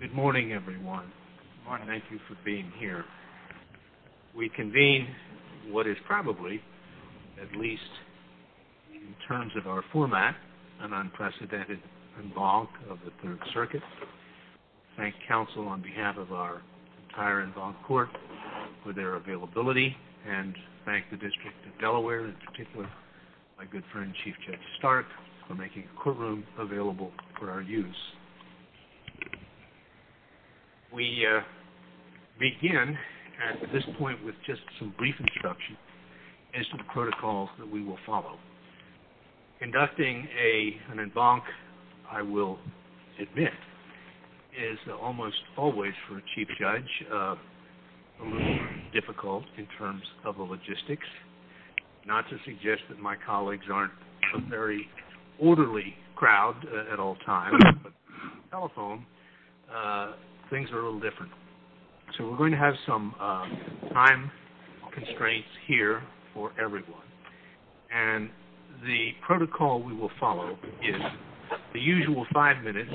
Good morning everyone. Thank you for being here. We convene what is probably, at least in terms of our format, an unprecedented Involvement of the Third Circuit, thank counsel on behalf of our entire Involved Court for their availability, and thank the District of Delaware in particular, my good friend Chief Judge Stark, for making a courtroom available for our use. We begin at this point with just some brief introduction and some protocols that we will follow. Conducting an Involvement of the Third Circuit, I will admit, is almost always, for Chief Judge, a little difficult in terms of the logistics. Not to suggest that my colleagues aren't a very orderly crowd at all times, but on the telephone, things are a little different. So we're going to have some time constraints here for everyone, and the protocol we will follow is the usual five minutes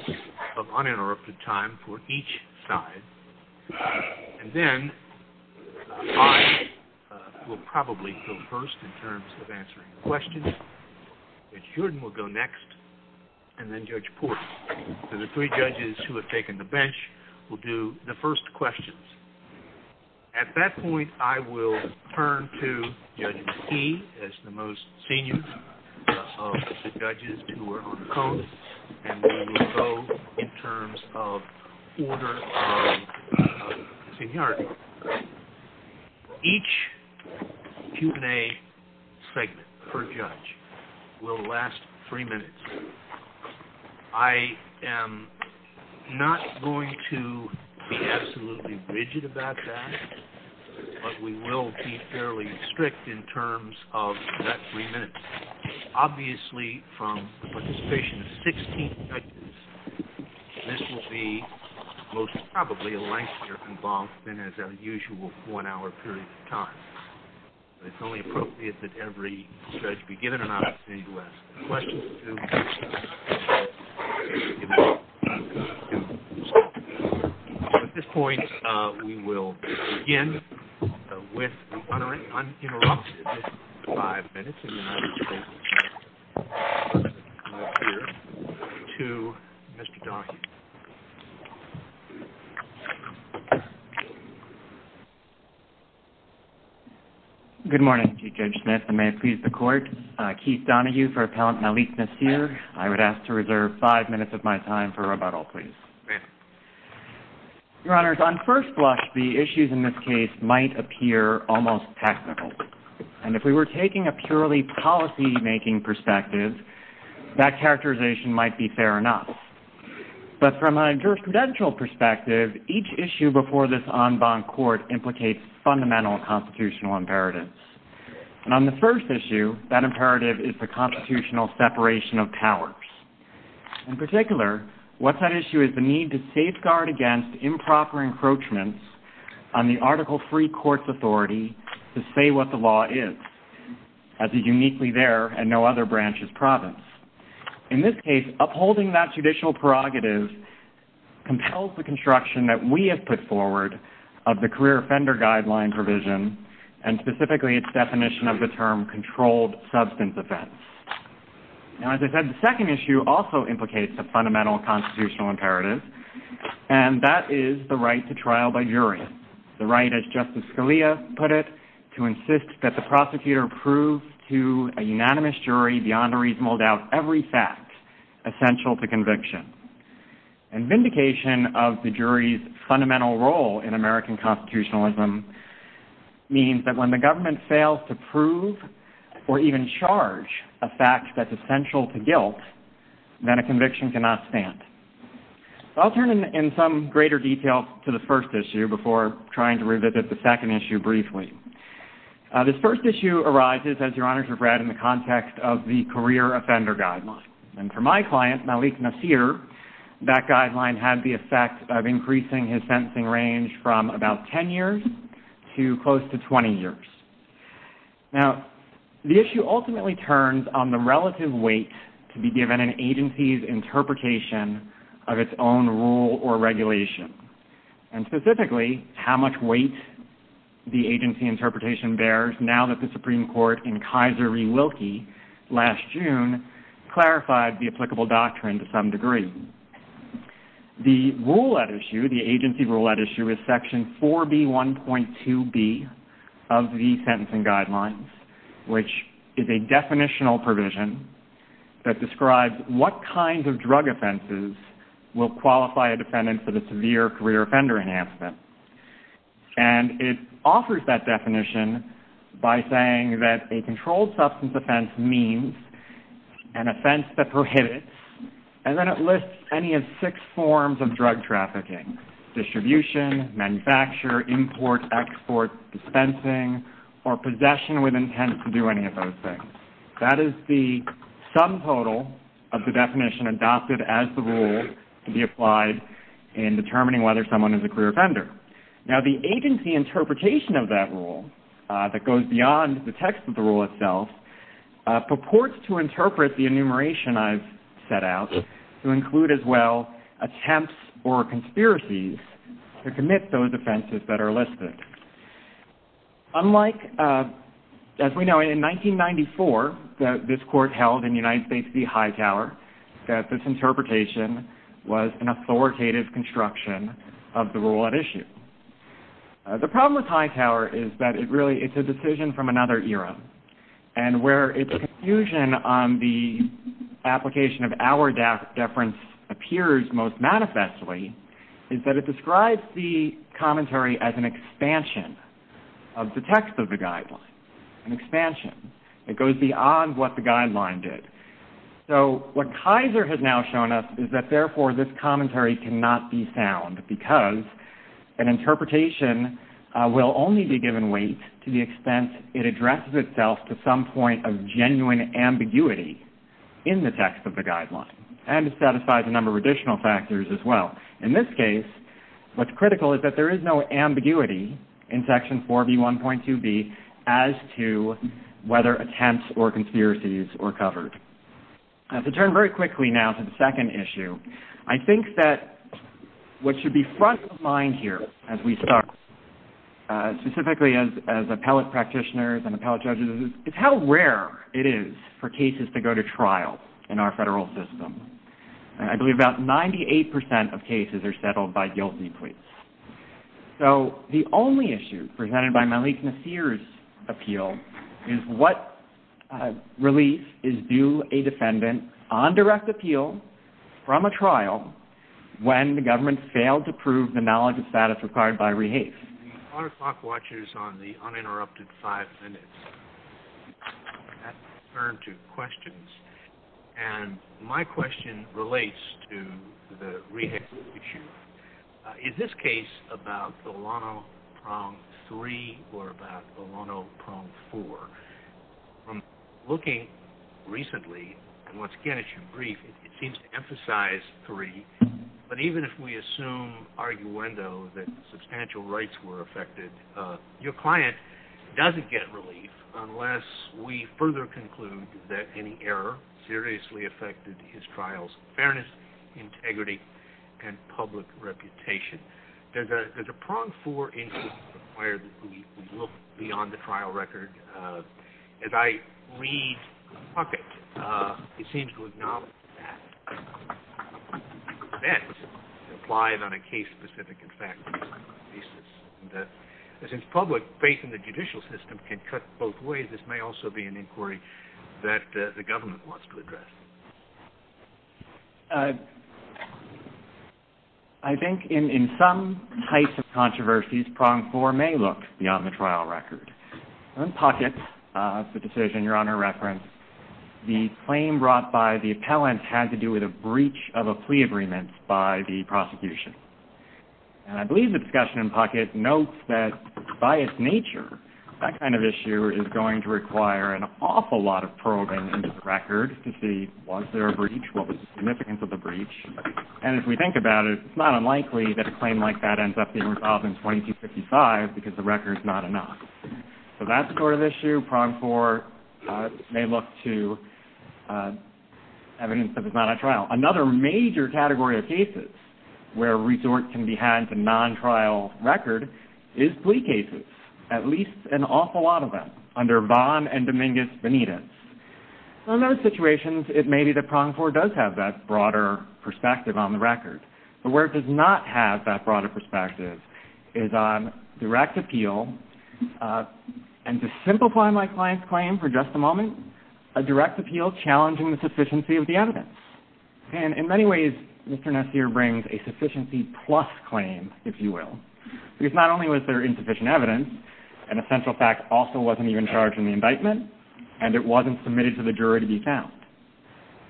of uninterrupted time for each side. And then, I will probably go first in terms of answering questions, Judge Jordan will go next, and then Judge Porter. And the three judges who have taken the bench will do the first questions. At that point, I will turn to Judge Stee as the most senior of the judges to work on the code, and we will go in terms of order of seniority. Each Q&A segment, per judge, will last three minutes. I am not going to be absolutely rigid about that, but we will be fairly strict in terms of that three minutes. Obviously, from the participation of 16 judges, this will be most probably a lengthier involvement than our usual one hour period of time. It's only appropriate that every judge be given an opportunity to ask questions. At this point, we will begin with an uninterrupted five minutes, and I will turn it over to Mr. Donahue. Good morning, Chief Judge. Nice to meet you. Keith Donahue for Appellant Malikna here. I would ask to reserve five minutes of my time for rebuttal, please. Your Honor, on first blush, the issues in this case might appear almost tactical. And if we were taking a purely policymaking perspective, that characterization might be fair enough. But from a jurisprudential perspective, each issue before this en banc court implicates fundamental constitutional imperatives. And on the first issue, that imperative is the constitutional separation of powers. In particular, what's at issue is the need to safeguard against improper encroachments on the Article III court's authority to say what the law is, as is uniquely there and no other branch's province. In this case, upholding that judicial prerogative controls the construction that we have put forward of the career offender guideline provision, and specifically its definition of the term controlled substance offense. Now, as I said, the second issue also implicates a fundamental constitutional imperative, and that is the right to trial by jury. The right, as Justice Scalia put it, to insist that the prosecutor prove to a unanimous jury beyond a reasonable doubt every fact essential to conviction. And vindication of the jury's fundamental role in American constitutionalism means that when the government fails to prove or even charge a fact that's essential to guilt, then a conviction cannot stand. I'll turn in some greater detail to the first issue before trying to revisit the second issue briefly. This first issue arises, as Your Honors have read, in the context of the career offender guideline. And for my client, Malik Nasir, that guideline has the effect of increasing his sentencing range from about 10 years to close to 20 years. Now, the issue ultimately turns on the relative weight to be given an agency's interpretation of its own rule or regulation, and specifically how much weight the agency interpretation bears now that the Supreme Court in Kaiser v. Wilkie last June clarified the applicable doctrine to some degree. The rule at issue, the agency rule at issue, is section 4B.1.2b of the sentencing guidelines, which is a definitional provision that describes what kinds of drug offenses will qualify a defendant for the severe career offender enhancement. And it offers that definition by saying that a controlled substance offense means an offense that prohibits, and then it lists any of six forms of drug trafficking. Distribution, manufacture, import, export, dispensing, or possession with intent to do any of those things. That is the sum total of the definition adopted as the rule to be applied in determining whether someone is a career offender. Now, the agency interpretation of that rule that goes beyond the text of the rule itself purports to interpret the enumeration I've set out to include as well attempts or conspiracies to commit those offenses that are listed. Unlike, as we know, in 1994, this court held in United States v. Hightower that this interpretation was an authoritative construction of the rule at issue. The problem with Hightower is that it really is a decision from another era. And where a confusion on the application of our deference appears most manifestly is that it describes the commentary as an expansion of the text of the guideline, an expansion. It goes beyond what the guideline did. So, what Kaiser has now shown us is that, therefore, this commentary cannot be found because an interpretation will only be given weight to the extent it addresses itself to some point of genuine ambiguity in the text of the guideline. And it satisfies a number of additional factors as well. In this case, what's critical is that there is no ambiguity in Section 4B1.2b as to whether attempts or conspiracies are covered. To turn very quickly now to the second issue, I think that what should be front of mind here as we start, specifically as appellate practitioners and appellate judges, is how rare it is for cases to go to trial in our federal system. I believe about 98% of cases are settled by guilty plea. So, the only issue presented by Malik Nasir's appeal is what relief is due a defendant on direct appeal from a trial when the government failed to prove the knowledge of status required by rehafe. There are clock watches on the uninterrupted five minutes. I'll turn to questions. And my question relates to the rehafe issue. In this case, about the Lono Prong 3 or about the Lono Prong 4, from looking recently, and once again, I should brief, it seems to emphasize 3. But even if we assume arguendo that substantial rights were affected, your client doesn't get relief unless we further conclude that any error seriously affected his trial's fairness, integrity, and public reputation. Does the Prong 4 issue require that we look beyond the trial record? As I read the puppet, it seems to acknowledge that. That applies on a case-specific and fact-based basis. But since public faith in the judicial system can cut both ways, this may also be an inquiry that the government wants to address. I think in some types of controversies, Prong 4 may look beyond the trial record. In Puckett, the decision your Honor referenced, the claim brought by the appellant had to do with a breach of a plea agreement by the prosecution. And I believe the discussion in Puckett notes that by its nature, that kind of issue is going to require an awful lot of probing into the record to see was there a breach, what was the significance of the breach. And if we think about it, it's not unlikely that a claim like that ends up being resolved in 2255 because the record's not enough. So that sort of issue, Prong 4 may look to evidence that it's not a trial. Now, another major category of cases where resort can be had to non-trial record is plea cases, at least an awful lot of them, under Bond and Dominguez-Benitez. In those situations, it may be that Prong 4 does have that broader perspective on the record. But where it does not have that broader perspective is on direct appeal. And to simplify my client's claim for just a moment, a direct appeal challenging the sufficiency of the evidence. And in many ways, Mr. Nestia brings a sufficiency plus claim, if you will. Because not only was there insufficient evidence, an essential fact also wasn't even charged in the indictment, and it wasn't submitted to the jury to be found.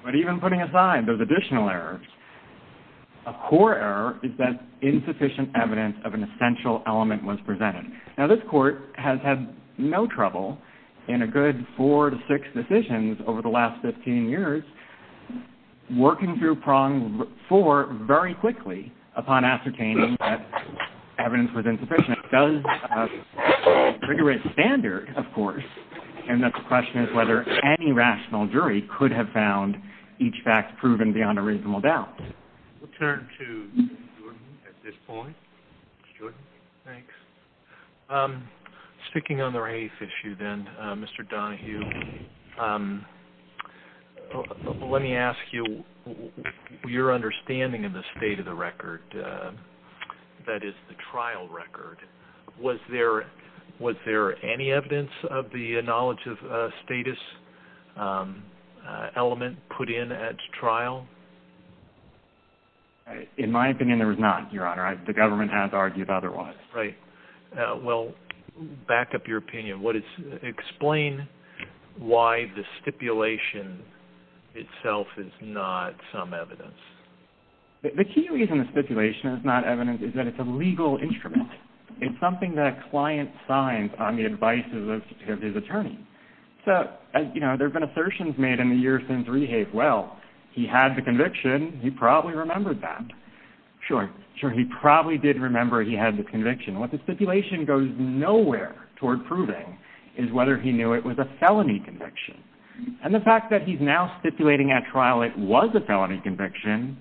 But even putting aside those additional errors, a core error is that insufficient evidence of an essential element was presented. Now, this court has had no trouble in a good four to six decisions over the last 15 years working through Prong 4 very quickly upon ascertaining that evidence was insufficient. It does have a pretty rich standard, of course, and the question is whether any rational jury could have found each fact proven beyond a reasonable doubt. We'll turn to Mr. Jordan at this point. Jordan? Thanks. Speaking on the race issue then, Mr. Donahue, let me ask you your understanding of the state of the record, that is, the trial record. Was there any evidence of the knowledge of status element put in at trial? In my opinion, there was not, Your Honor. The government has argued otherwise. Right. Well, back up your opinion. Explain why the stipulation itself is not some evidence. The key reason the stipulation is not evidence is that it's a legal instrument. It's something that a client signs on the advice of his attorney. So, you know, there have been assertions made in the years since Rehave. Well, he had the conviction. He probably remembered that. Sure. Sure, he probably did remember he had the conviction. What the stipulation goes nowhere toward proving is whether he knew it was a felony conviction. And the fact that he's now stipulating at trial it was a felony conviction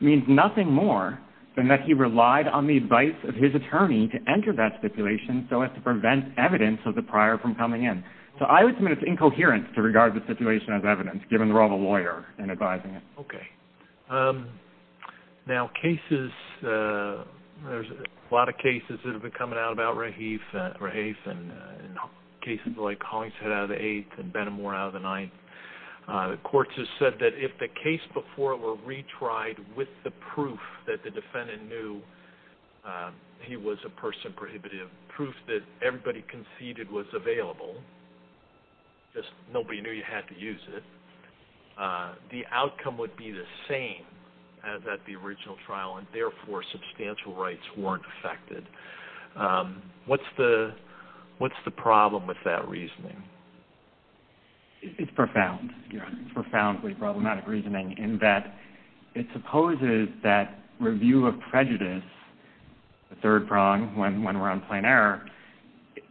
means nothing more than that he relied on the advice of his attorney to enter that stipulation so as to prevent evidence of the prior from coming in. So I would submit it's incoherence to regard the situation as evidence, given the role of a lawyer in advising it. Okay. Now, cases, there's a lot of cases that have been coming out about Rehave and cases like Hollingshead out of the eighth and Benamor out of the ninth. Courts have said that if the case before were retried with the proof that the defendant knew he was a person prohibited, proof that everybody conceded was available, just nobody knew you had to use it, the outcome would be the same as at the original trial and, therefore, substantial rights weren't affected. What's the problem with that reasoning? It's profound. It's profoundly problematic reasoning in that it supposes that review of prejudice, the third prong when we're on plain error,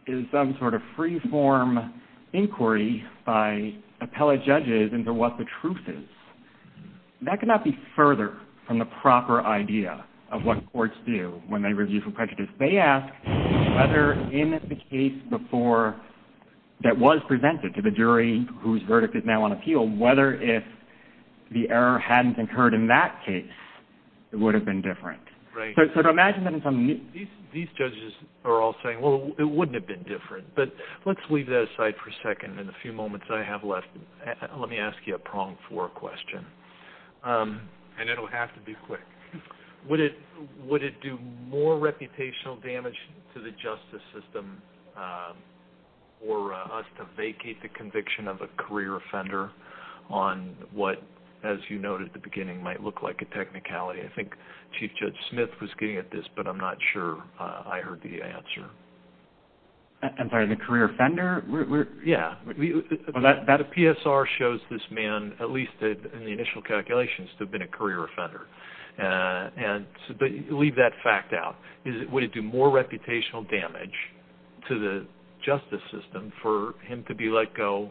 is some sort of free-form inquiry by appellate judges into what the truth is. That cannot be further from the proper idea of what courts do when they review for prejudice. They ask whether in the case before that was presented to the jury whose verdict is now on appeal, whether if the error hadn't occurred in that case, it would have been different. Right. So imagine that in some... These judges are all saying, well, it wouldn't have been different. But let's leave that aside for a second. In the few moments I have left, let me ask you a prong four question, and it'll have to be quick. Would it do more reputational damage to the justice system for us to vacate the conviction of a career offender on what, as you noted at the beginning, might look like a technicality? I think Chief Judge Smith was getting at this, but I'm not sure I heard the answer. I'm sorry, the career offender? Yeah. The PSR shows this man, at least in the initial calculations, to have been a career offender. But leave that fact out. Would it do more reputational damage to the justice system for him to be let go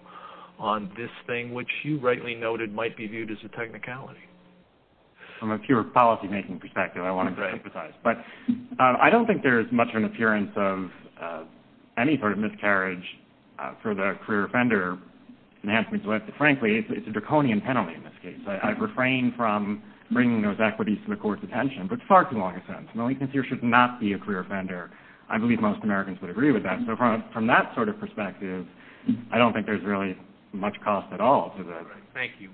on this thing, which you rightly noted might be viewed as a technicality? From a pure policy-making perspective, I wanted to emphasize. But I don't think there's much of an appearance of any sort of miscarriage for the career offender in Hanson's list. Frankly, it's a draconian penalty in this case. I've refrained from bringing those equities to the court's attention, but far too long, in a sense. Malik Nasir should not be a career offender. I believe most Americans would agree with that. So from that sort of perspective, I don't think there's really much cost at all to this. Thank you.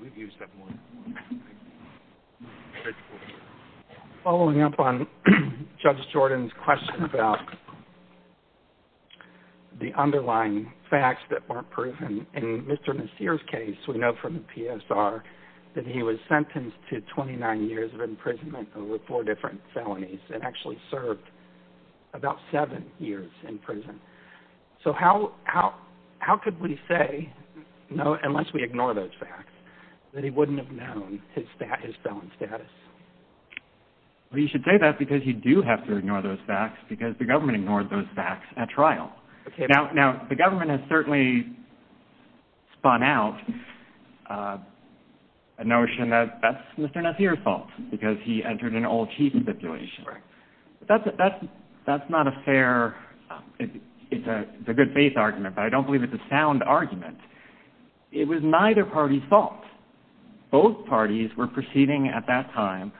Following up on Judge Jordan's question about the underlying facts that weren't proven, in Mr. Nasir's case, we know from the PSR that he was sentenced to 29 years of imprisonment over four different felonies, and actually served about seven years in prison. So how could we say, unless we ignore those facts, that he wouldn't have known his felon status? Well, you should say that because you do have to ignore those facts, because the government ignored those facts at trial. Now, the government has certainly spun out a notion that that's Mr. Nasir's fault, because he entered an old chief institution. That's not a fair – it's a good-faith argument, but I don't believe it's a sound argument. It was neither party's fault. Both parties were proceeding at that time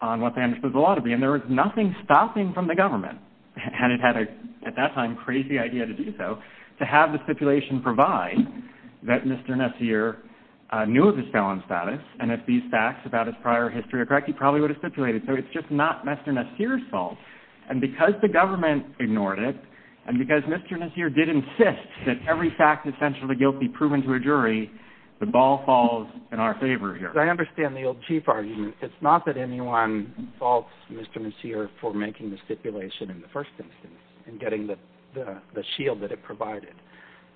on what they understood the law to be, and there was nothing stopping from the government – and it had, at that time, a crazy idea to do so – to have the stipulation provide that Mr. Nasir knew of his felon status, and if these facts about his prior history are correct, he probably would have stipulated. So it's just not Mr. Nasir's fault. And because the government ignored it, and because Mr. Nasir did insist that every fact essential to guilt be proven to a jury, the ball falls in our favor here. I understand the old chief argument. It's not that anyone faults Mr. Nasir for making the stipulation in the first instance, and getting the shield that it provided.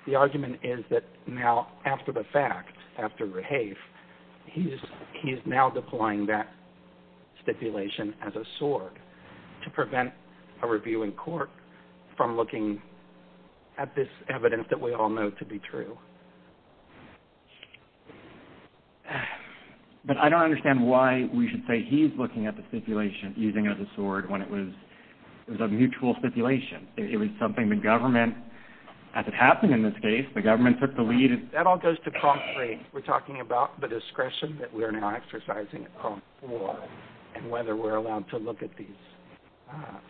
The argument is that now, after the facts, after the case, he is now deploying that stipulation as a sword to prevent a review in court from looking at this evidence that we all know to be true. But I don't understand why we should say he's looking at the stipulation, using it as a sword, when it was a mutual stipulation. It was something the government – as it happened in this case, the government took the lead. That all goes to call three. We're talking about the discretion that we're now exercising on the floor, and whether we're allowed to look at these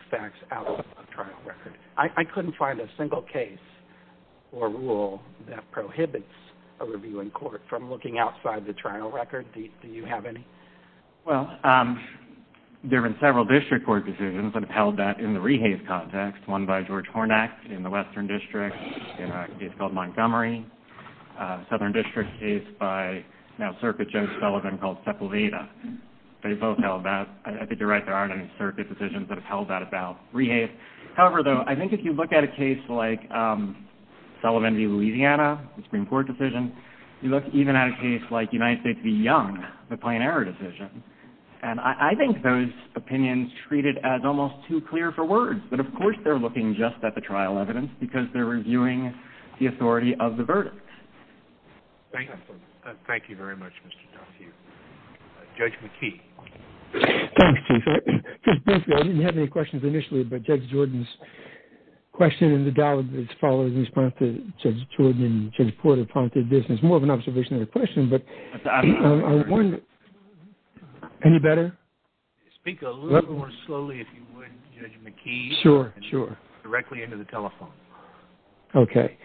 facts outside the trial record. I couldn't find a single case or rule that prohibits a review in court from looking outside the trial record. Do you have any? Well, there have been several district court decisions that have held that in the rehave context, one by George Hornak in the Western District, a case called Montgomery, a Southern District case by now Circuit Judge Sullivan called Sepulveda. They both held that. I think you're right. There aren't any circuit decisions that have held that about rehave. However, though, I think if you look at a case like Sullivan v. Louisiana, a Supreme Court decision, you look even at a case like United v. Young, the Plain Error decision, and I think those opinions treated as almost too clear for words. But, of course, they're looking just at the trial evidence because they're reviewing the authority of the verdict. Thank you. Thank you very much, Mr. Donahue. Judge McKee. Thank you. I didn't have any questions initially, but Judge Jordan's question in the dialogue that's following is more of an observation than a question. Any better? Speak a little more slowly, if you would, Judge McKee. Sure, sure. Directly into the telephone. Okay.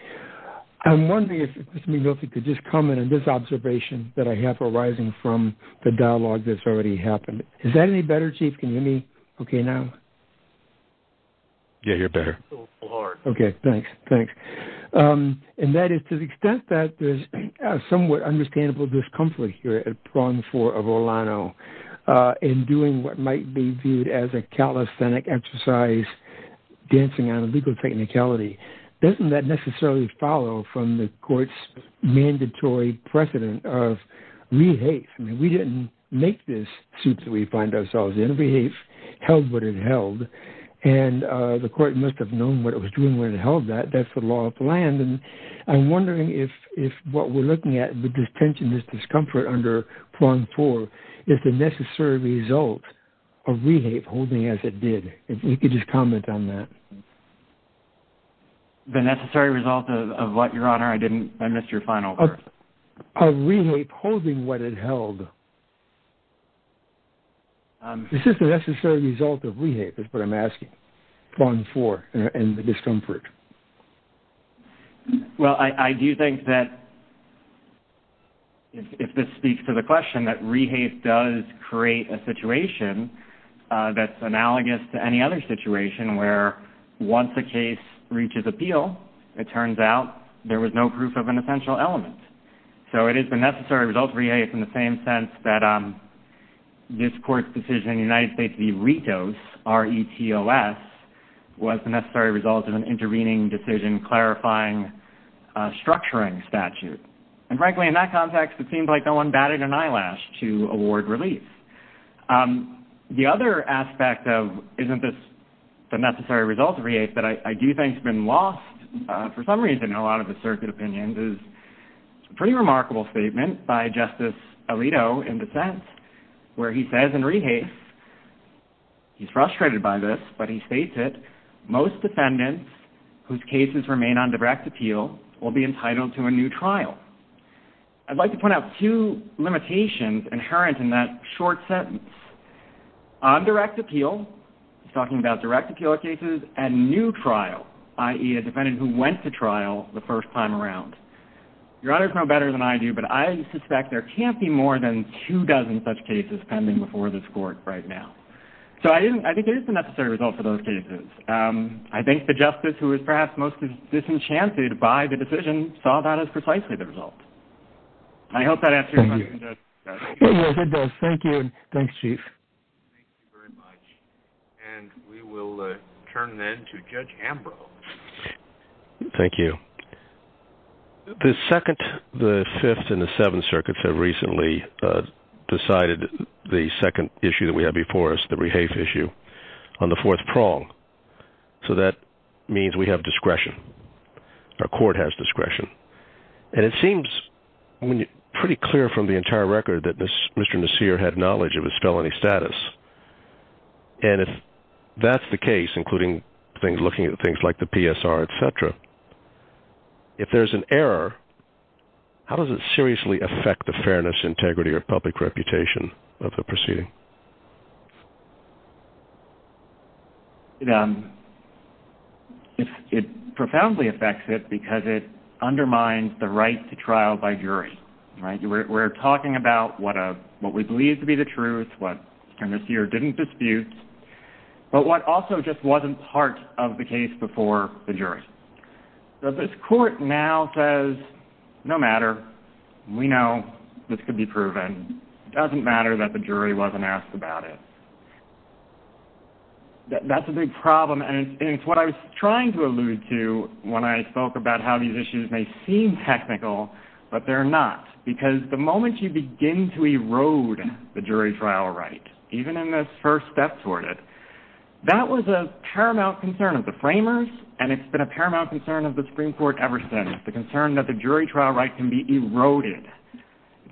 I'm wondering if Mr. McNulty could just comment on this observation that I have arising from the dialogue that's already happened. Is that any better, Chief? Can you hear me okay now? Yeah, you're better. Okay. Thanks. Thanks. And that is to the extent that there's somewhat understandable discomfort here at prong four of Orlano in doing what might be viewed as a calisthenic exercise, dancing on legal technicality, doesn't that necessarily follow from the court's mandatory precedent of we hate? I mean, we didn't make this suit that we find ourselves in. We hate held what it held, and the court must have known what it was doing when it held that. That's the law of the land. And I'm wondering if what we're looking at with this tension, this discomfort under prong four, is the necessary result of we hate holding as it did. If you could just comment on that. The necessary result of what, Your Honor? I missed your final part. Of we hate holding what it held. Is this a necessary result of we hate is what I'm asking prong four and the discomfort. Well, I do think that if this speaks to the question that we hate does create a situation that's analogous to any other situation where once a case reaches appeal, it turns out there was no proof of an essential element. So it is the necessary result of we hate in the same sense that this court's decision in the United States, the RETOS, R-E-T-O-S, was the necessary result of an intervening decision clarifying a structuring statute. And frankly, in that context, it seems like no one batted an eyelash to award relief. The other aspect of isn't this the necessary result of we hate that I do think has been lost for some reason in a lot of the circuit opinions is a pretty remarkable statement by Justice Alito in dissent where he says in we hate, he's frustrated by this, but he states it, most defendants whose cases remain on direct appeal will be entitled to a new trial. I'd like to point out two limitations inherent in that short sentence. On direct appeal, he's talking about direct appeal cases, and new trial, i.e. a defendant who went to trial the first time around. Your honors know better than I do, but I suspect there can't be more than two dozen such cases pending before this court right now. So I think it is the necessary result for those cases. I think the justice who is perhaps most disenchanted by the decision saw that as precisely the result. I hope that answers your question, Judge. It does. Thank you. Thanks, Chief. Thank you very much. And we will turn then to Judge Ambrose. Thank you. The Second, the Fifth, and the Seventh Circuits have recently decided the second issue that we have before us, the rehafe issue, on the fourth prong. So that means we have discretion. Our court has discretion. And it seems pretty clear from the entire record that Mr. Messier had knowledge of his felony status. And if that's the case, including looking at things like the PSR, etc., if there's an error, how does it seriously affect the fairness, integrity, or public reputation of the proceeding? It profoundly affects it because it undermines the right to trial by jury. We're talking about what we believe to be the truth, what Mr. Messier didn't dispute, but what also just wasn't part of the case before the jury. So this court now says, no matter. We know this could be proven. It doesn't matter that the jury wasn't asked about it. That's a big problem. And it's what I was trying to allude to when I spoke about how these issues may seem technical, but they're not. Because the moment you begin to erode the jury trial right, even in this first step toward it, that was a paramount concern of the framers, and it's been a paramount concern of the Supreme Court ever since. The concern that the jury trial right can be eroded,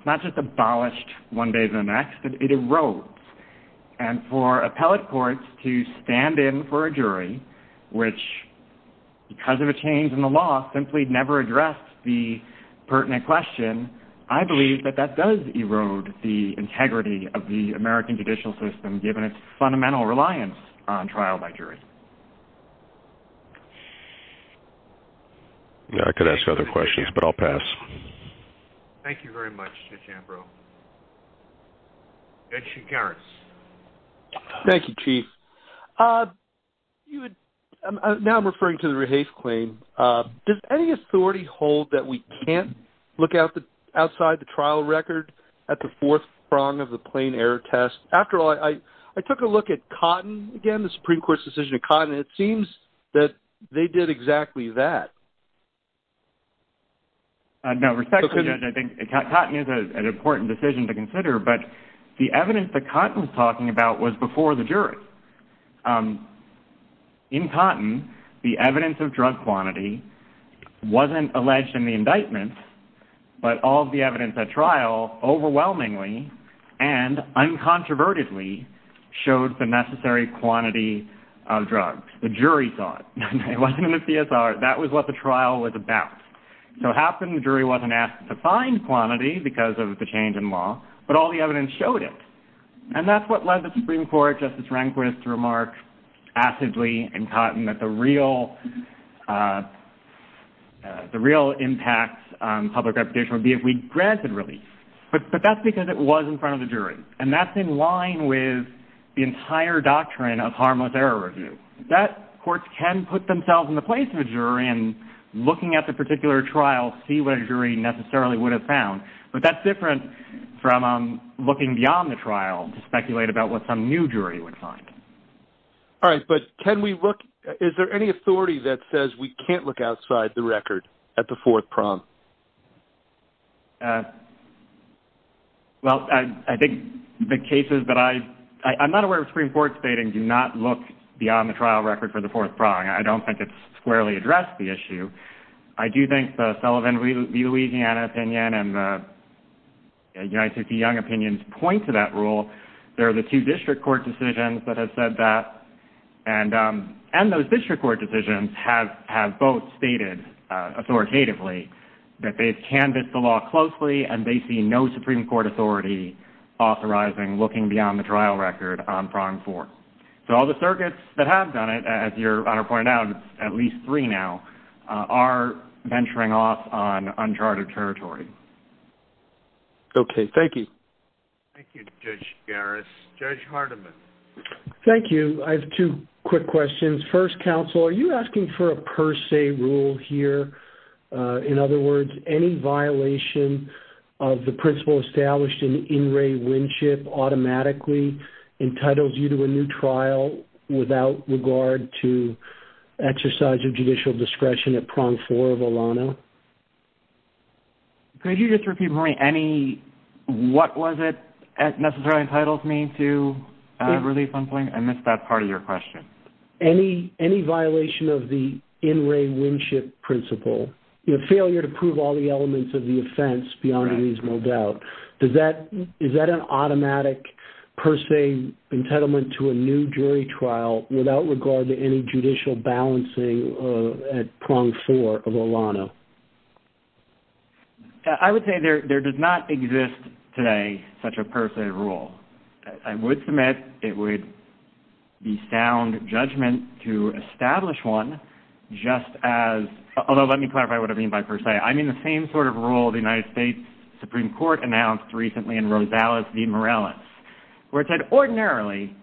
not just abolished one day to the next, but it erodes. And for appellate courts to stand in for a jury, which, because of a change in the law, simply never addressed the pertinent question, I believe that that does erode the integrity of the American judicial system, given its fundamental reliance on trial by jury. I could ask other questions, but I'll pass. Thank you very much, Mr. Chambrow. Thank you, Garris. Thank you, Chief. Now I'm referring to the Rahafe claim. Does any authority hold that we can't look outside the trial record at the fourth prong of the plain error test? After all, I took a look at Cotton again, the Supreme Court's decision on Cotton, and it seems that they did exactly that. No, respectfully, Judge, I think Cotton is an important decision to consider, but the evidence that Cotton's talking about was before the jury. In Cotton, the evidence of drug quantity wasn't alleged in the indictment, but all of the evidence at trial overwhelmingly and uncontrovertedly showed the necessary quantity of drugs. The jury saw it. It wasn't in the PSR. That was what the trial was about. So it happened the jury wasn't asked to find quantity because of the change in law, but all the evidence showed it. And that's what led the Supreme Court, Justice Rehnquist, to remark acidly in Cotton that the real impact on public reputation would be if we granted release. But that's because it was in front of the jury, and that's in line with the entire doctrine of harmless error review. Courts can put themselves in the place of the jury and, looking at the particular trial, see what a jury necessarily would have found. But that's different from looking beyond the trial to speculate about what some new jury would find. All right, but is there any authority that says we can't look outside the record at the fourth prompt? Well, I think the cases that I... I'm not aware of a Supreme Court stating do not look beyond the trial record for the fourth prompt. I don't think it's squarely addressed the issue. I do think the Sullivan v. Louisiana opinion and the United v. Young opinions point to that rule. There are the two district court decisions that have said that, and those district court decisions have both stated authoritatively. That they've canvassed the law closely, and they see no Supreme Court authority authorizing looking beyond the trial record on prompt four. So all the circuits that have done it, as your Honor pointed out, at least three now, are venturing off on uncharted territory. Okay, thank you. Thank you, Judge Garris. Judge Hardiman. Thank you. I have two quick questions. First, counsel, are you asking for a per se rule here? In other words, any violation of the principle established in In Re Winship automatically entitles you to a new trial without regard to exercise of judicial discretion at prompt four of ALANA? Could you just repeat for me any... what was it necessarily entitles me to release on point? I missed that part of your question. Any violation of the In Re Winship principle. Failure to prove all the elements of the offense beyond reasonable doubt. Is that an automatic per se entitlement to a new jury trial without regard to any judicial balancing at prompt four of ALANA? I would say there does not exist today such a per se rule. I would submit it would be sound judgment to establish one just as... although let me clarify what I mean by per se. I mean the same sort of rule the United States Supreme Court announced recently in Rosales v. Morales, where it said ordinarily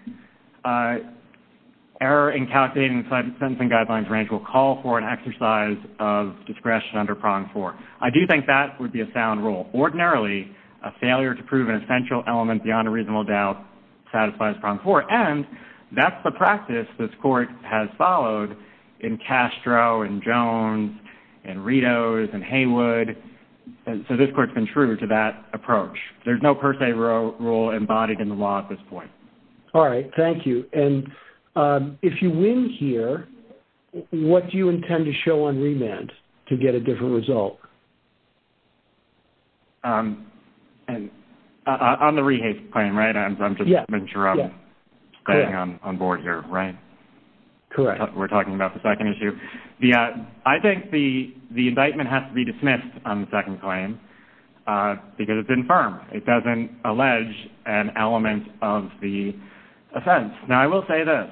error in calculating sentencing guidelines range will call for an exercise of discretion under prompt four. I do think that would be a sound rule. Ordinarily, a failure to prove an essential element beyond a reasonable doubt satisfies prompt four. And that's the practice this court has followed in Castro and Jones and Ritos and Hainwood. So this court's been true to that approach. There's no per se rule embodied in the law at this point. All right. Thank you. And if you win here, what do you intend to show on remand to get a different result? On the rehase claim, right? I'm just not sure I'm staying on board here, right? Correct. We're talking about the second issue. I think the indictment has to be dismissed on the second claim because it's infirm. It doesn't allege an element of the offense. Now, I will say this.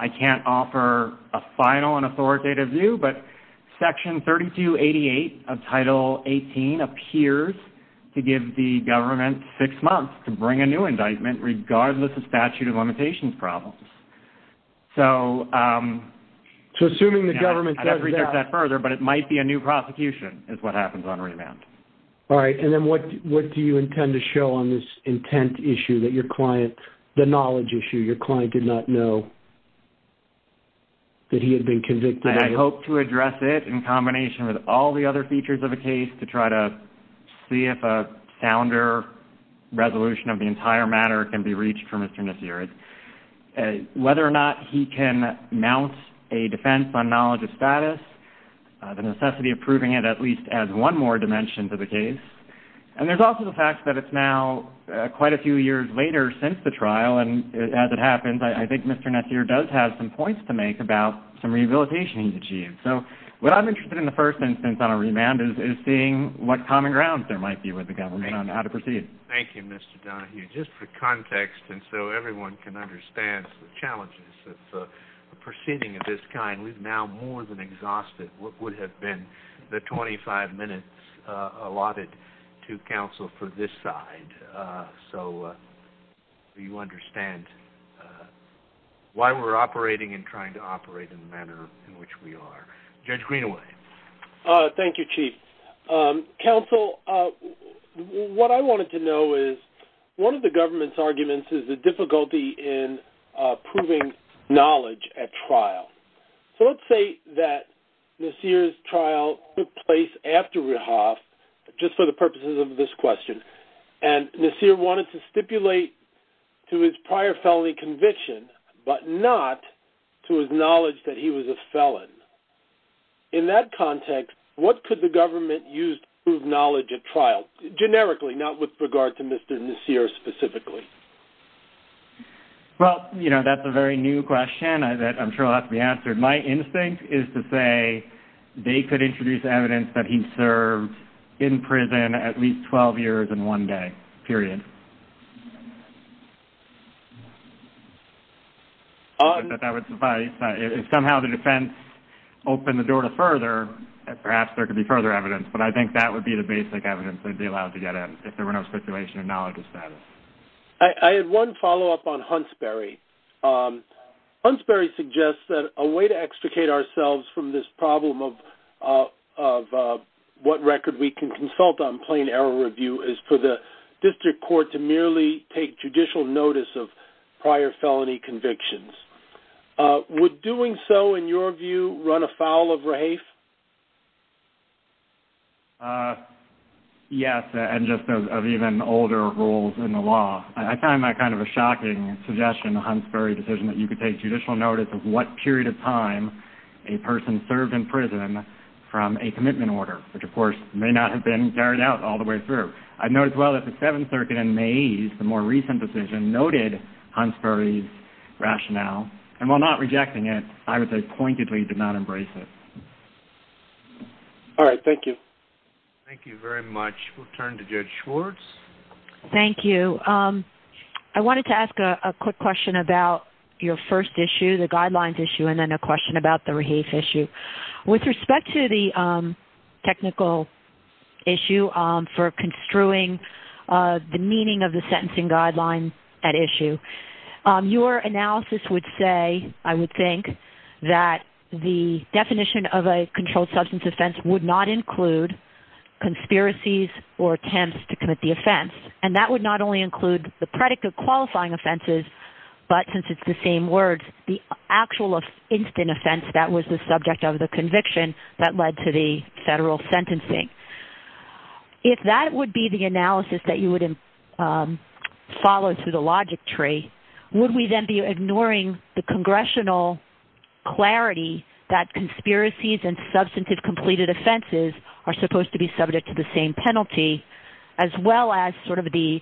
I can't offer a final and authoritative view, but Section 3288 of Title 18 appears to give the government six months to bring a new indictment regardless of statute of limitations problems. So... So assuming the government does that... I don't expect that further, but it might be a new prosecution is what happens on remand. All right. And then what do you intend to show on this intent issue that your client, the knowledge issue your client did not know that he had been convicted of? I hope to address it in combination with all the other features of the case to try to see if a sounder resolution of the entire matter can be reached for misdemeanors. Whether or not he can mount a defense on knowledge of status, the necessity of proving it at least as one more dimension to the case. And there's also the fact that it's now quite a few years later since the trial. And as it happens, I think Mr. Netzer does have some points to make about some rehabilitation he's achieved. So what I'm interested in the first instance on a remand is seeing what common grounds there might be with the government on how to proceed. Thank you, Mr. Donahue. Just for context, and so everyone can understand the challenges of proceeding of this kind, we've now more than exhausted what would have been the 25 minutes allotted to counsel for this side. So you understand why we're operating and trying to operate in the manner in which we are. Judge Greenaway. Thank you, Chief. Counsel, what I wanted to know is one of the government's arguments is the difficulty in proving knowledge at trial. So let's say that Netzer's trial took place after Rehoboth, just for the purposes of this question, and Netzer wanted to stipulate to his prior felony conviction but not to his knowledge that he was a felon. In that context, what could the government use to prove knowledge at trial, generically not with regard to Mr. Netzer specifically? Well, you know, that's a very new question that I'm sure will have to be answered. My instinct is to say they could introduce evidence that he served in prison at least 12 years in one day, period. If that would suffice. If somehow the defense opened the door to further, perhaps there could be further evidence. But I think that would be the basic evidence that would be allowed to get in if there were no stipulation of knowledge of status. I have one follow-up on Hunsberry. Hunsberry suggests that a way to extricate ourselves from this problem of what record we can consult on plain error review is for the district court to merely take judicial notice of prior felony convictions. Would doing so, in your view, run afoul of RAFE? Yes, and just of even older rules in the law. I find that kind of a shocking suggestion, Hunsberry, the decision that you could take judicial notice of what period of time a person served in prison from a commitment order, which of course may not have been carried out all the way through. I know as well that the Seventh Circuit in May, the more recent decision, noted Hunsberry's rationale, and while not rejecting it, I would say pointedly did not embrace it. All right, thank you. Thank you very much. We'll turn to Judge Schwartz. Thank you. I wanted to ask a quick question about your first issue, the guidelines issue, and then a question about the RAFE issue. With respect to the technical issue for construing the meaning of the sentencing guidelines at issue, your analysis would say, I would think, that the definition of a controlled substance offense would not include conspiracies or attempts to commit the offense, and that would not only include the predicate qualifying offenses, but since it's the same words, the actual instant offense that was the subject of the conviction that led to the federal sentencing. If that would be the analysis that you would follow through the logic tree, would we then be ignoring the congressional clarity that conspiracies and substantive completed offenses are supposed to be subject to the same penalty, as well as sort of the,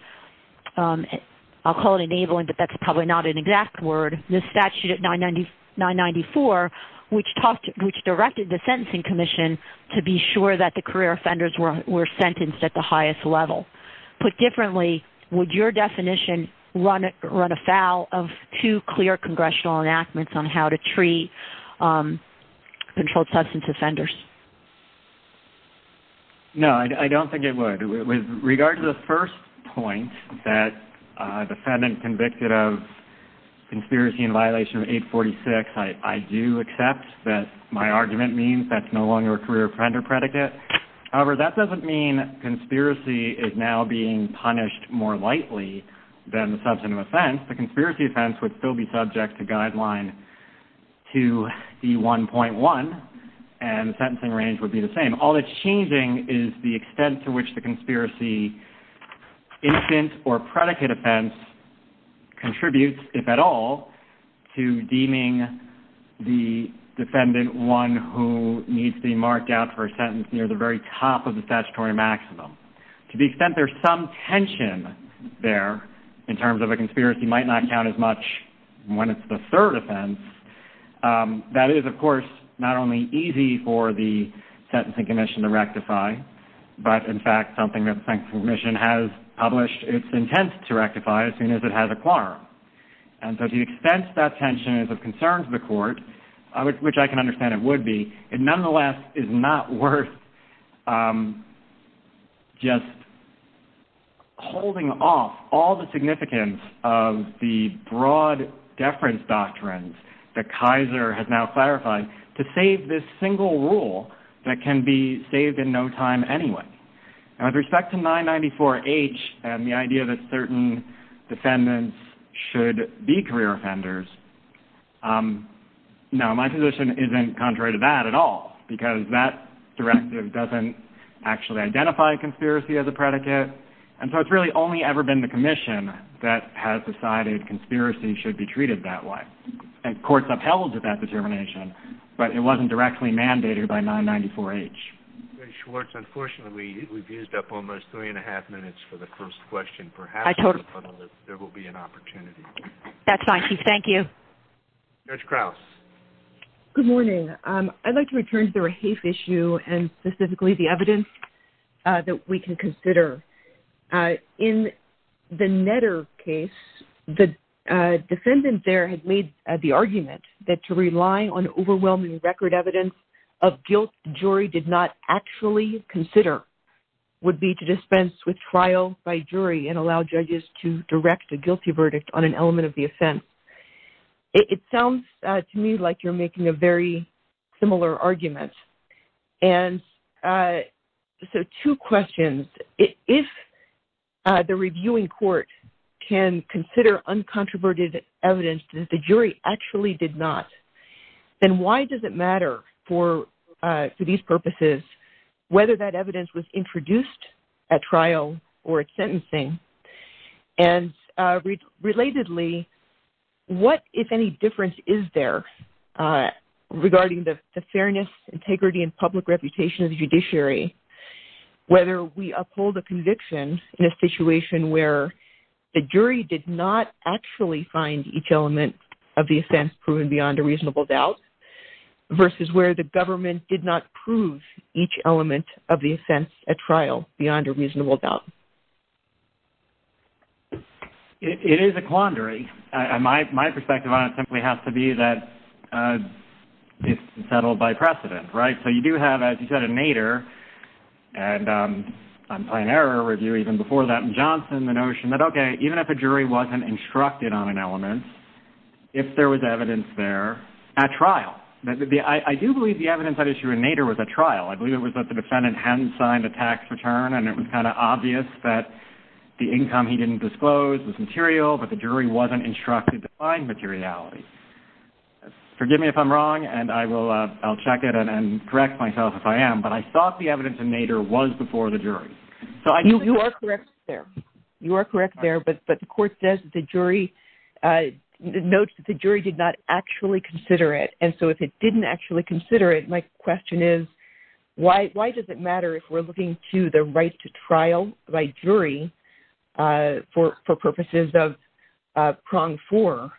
I'll call it enabling, but that's probably not an exact word, the statute of 994, which directed the sentencing commission to be sure that the career offenders were sentenced at the highest level. Put differently, would your definition run afoul of two clear congressional enactments on how to treat controlled substance offenders? No, I don't think it would. With regard to the first point, that defendant convicted of conspiracy in violation of 846, I do accept that my argument means that's no longer a career offender predicate. However, that doesn't mean conspiracy is now being punished more lightly than substantive offense. The conspiracy offense would still be subject to guideline 2E1.1, and the sentencing range would be the same. All that's changing is the extent to which the conspiracy infant or predicate offense contributes, if at all, to deeming the defendant one who needs to be marked out for a sentence near the very top of the statutory maximum. To the extent there's some tension there, in terms of a conspiracy might not count as much when it's the third offense. That is, of course, not only easy for the sentencing commission to rectify, but in fact something the sentencing commission has published its intent to rectify as soon as it has a quorum. And so to the extent that tension is of concern to the court, which I can understand it would be, it nonetheless is not worth just holding off all the significance of the broad deference doctrines that Kaiser has now clarified to save this single rule that can be saved in no time anyway. Now with respect to 994H and the idea that certain defendants should be career offenders, now my position isn't contrary to that at all, because that directive doesn't actually identify conspiracy as a predicate, and so it's really only ever been the commission that has decided conspiracy should be treated that way. And courts upheld that determination, but it wasn't directly mandated by 994H. Schwartz, unfortunately we've used up almost three and a half minutes for the first question. Perhaps there will be an opportunity. That's fine, Chief. Thank you. Judge Krause. Good morning. I'd like to return to the Rahafe issue and specifically the evidence that we can consider. In the Netter case, the defendant there had made the argument that to rely on overwhelming record evidence of guilt the jury did not actually consider would be to dispense with trial by jury and allow judges to direct a guilty verdict on an element of the offense. It sounds to me like you're making a very similar argument. And so two questions. If the reviewing court can consider uncontroverted evidence that the jury actually did not, then why does it matter for these purposes whether that evidence was introduced at trial or at sentencing? And relatedly, what, if any, difference is there regarding the fairness, integrity, and public reputation of the judiciary whether we uphold a conviction in a situation where the jury did not actually find each element of the offense proven beyond a reasonable doubt versus where the government did not prove each element of the offense at trial beyond a reasonable doubt? It is a quandary. My perspective on it simply has to be that it's settled by precedent, right? So you do have, as you said, a Nader and a Pioneer review even before that, and Johnson, the notion that, okay, even if a jury wasn't instructed on an element, if there was evidence there at trial. I do believe the evidence at issue in Nader was at trial. I believe it was that the defendant hadn't signed a tax return, and it was kind of obvious that the income he didn't disclose was material, but the jury wasn't instructed to find materiality. Forgive me if I'm wrong, and I'll check it and correct myself if I am, but I thought the evidence in Nader was before the jury. You are correct there. You are correct there, but the court says that the jury notes that the jury did not actually consider it, and so if it didn't actually consider it, my question is, why does it matter if we're looking to the right to trial by jury for purposes of prong for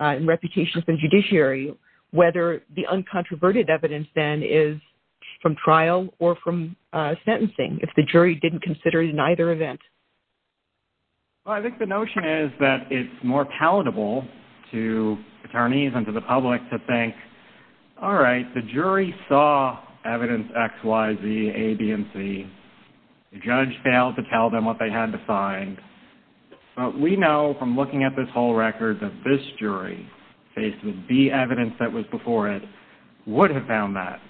and reputation from judiciary whether the uncontroverted evidence then is from trial or from sentencing? If the jury didn't consider it in either event? Well, I think the notion is that it's more palatable to attorneys and to the public to think, all right, the jury saw evidence X, Y, Z, A, B, and C. The judge failed to tell them what they had to find, but we know from looking at this whole record that this jury, based on the evidence that was before it, would have found that,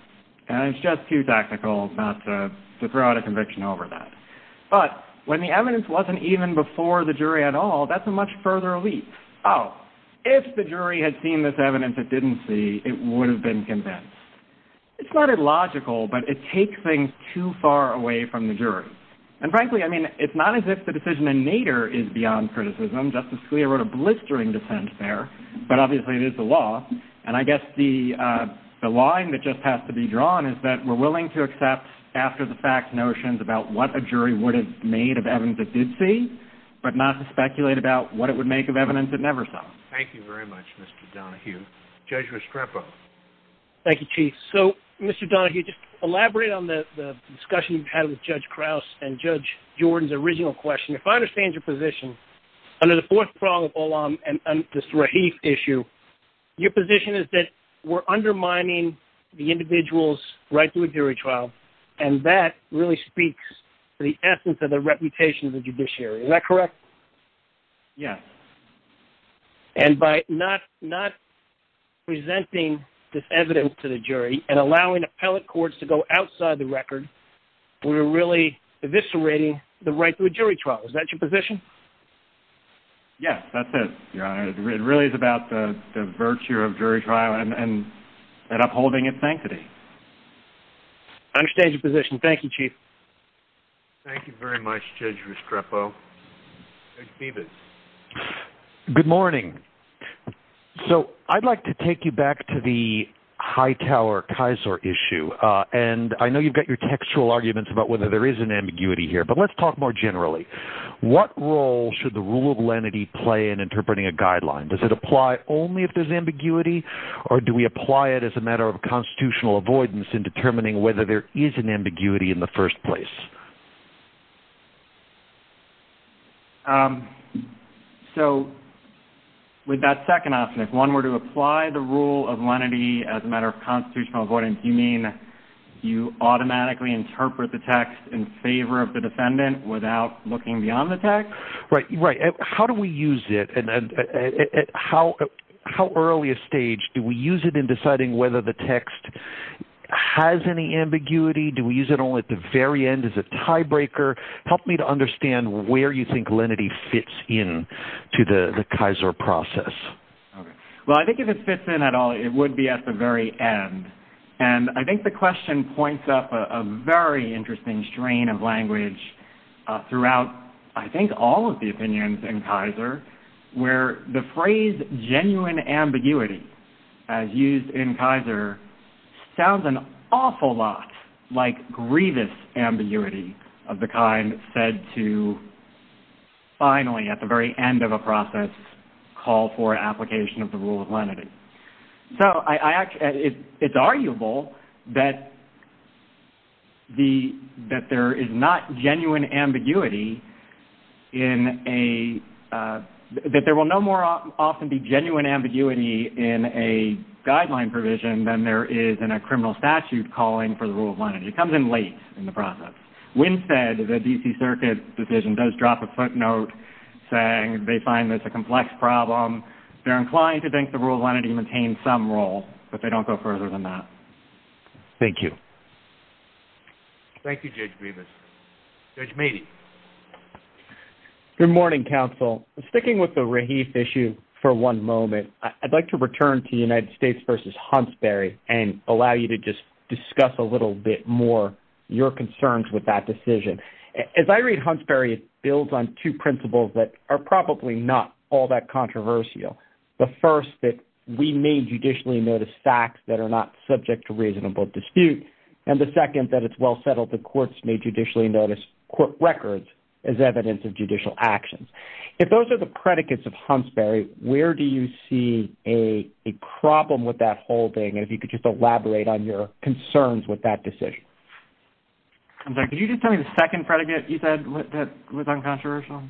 and it's just too tactical not to throw out a conviction over that, but when the evidence wasn't even before the jury at all, that's a much further leap. Oh, if the jury had seen this evidence it didn't see, it would have been convinced. It's not illogical, but it takes things too far away from the jury, and frankly, I mean, it's not as if the decision in Nader is beyond criticism. Justice Scalia wrote a blistering dissent there, but obviously it is the law, and I guess the line that just has to be drawn is that we're willing to accept after-the-fact notions about what a jury would have made of evidence it did see, but not to speculate about what it would make of evidence it never saw. Thank you very much, Mr. Donahue. Judge Restrepo. Thank you, Chief. So, Mr. Donahue, just elaborate on the discussion you had with Judge Krause and Judge Jordan's original question. If I understand your position, under the Fourth Prong of Olam and this Raheith issue, your position is that we're undermining the individual's right to a jury trial, and that really speaks to the essence of the reputation of the judiciary. Is that correct? Yes. And by not presenting this evidence to the jury and allowing appellate courts to go outside the record, we're really eviscerating the right to a jury trial. Is that your position? Yes, that's it, Your Honor. It really is about the virtue of jury trial and upholding its sanctity. I understand your position. Thank you, Chief. Thank you very much, Judge Restrepo. Judge Stevens. Good morning. So I'd like to take you back to the Hightower-Kaiser issue, and I know you've got your textual arguments about whether there is an ambiguity here, but let's talk more generally. What role should the rule of lenity play in interpreting a guideline? Does it apply only if there's ambiguity, or do we apply it as a matter of constitutional avoidance in determining whether there is an ambiguity in the first place? So with that second option, if one were to apply the rule of lenity as a matter of constitutional avoidance, you mean you automatically interpret the text in favor of the defendant without looking beyond the text? Right. How do we use it? At how early a stage do we use it in deciding whether the text has any ambiguity? Do we use it only at the very end? Is it tiebreaker? Help me to understand where you think lenity fits in to the Kaiser process. Well, I think if it fits in at all, it would be at the very end. And I think the question points up a very interesting strain of language throughout, I think, all of the opinions in Kaiser, where the phrase genuine ambiguity, as used in Kaiser, sounds an awful lot like grievous ambiguity of the kind said to, finally, at the very end of a process, call for an application of the rule of lenity. So it's arguable that there will no more often be genuine ambiguity in a guideline provision than there is in a criminal statute calling for the rule of lenity. It comes in late in the process. Winstead, the D.C. Circuit Division, does drop a footnote saying they find this a complex problem. They're inclined to think the rule of lenity maintains some role, but they don't go further than that. Thank you. Thank you, Judge Grievous. Judge Meade. Good morning, counsel. Sticking with the Raheef issue for one moment, I'd like to return to United States v. Huntsbury and allow you to just discuss a little bit more your concerns with that decision. As I read Huntsbury, it builds on two principles that are probably not all that controversial. The first, that we may judicially notice facts that are not subject to reasonable dispute. And the second, that it's well settled that courts may judicially notice court records as evidence of judicial actions. If those are the predicates of Huntsbury, where do you see a problem with that holding? And if you could just elaborate on your concerns with that decision. Could you just tell me the second predicate you said was uncontroversial?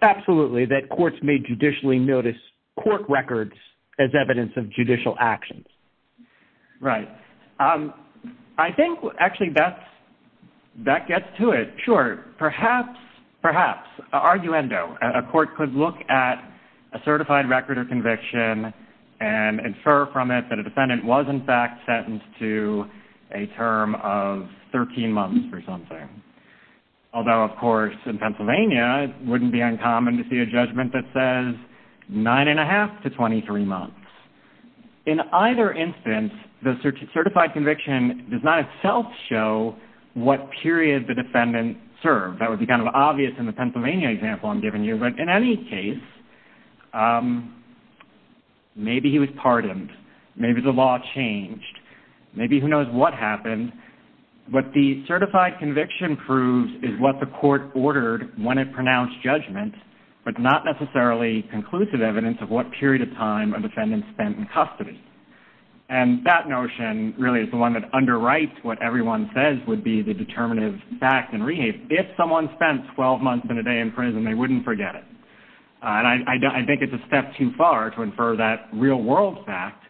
Absolutely, that courts may judicially notice court records as evidence of judicial actions. Right. I think, actually, that gets to it. Sure. Perhaps, perhaps, an arguendo, a court could look at a certified record of conviction and infer from it that a defendant was, in fact, sentenced to a term of 13 months or something. Although, of course, in Pennsylvania, it wouldn't be uncommon to see a judgment that says 9 1⁄2 to 23 months. In either instance, the certified conviction does not itself show what period the defendant served. That would be kind of obvious in the Pennsylvania example I'm giving you. But, in any case, maybe he was pardoned. Maybe the law changed. Maybe who knows what happened. What the certified conviction proves is what the court ordered when it pronounced judgment, but not necessarily conclusive evidence of what period of time a defendant spent in custody. And that notion really is the one that underwrites what everyone says would be the determinative fact and relief. If someone spent 12 months and a day in prison, they wouldn't forget it. I think it's a step too far to infer that real-world fact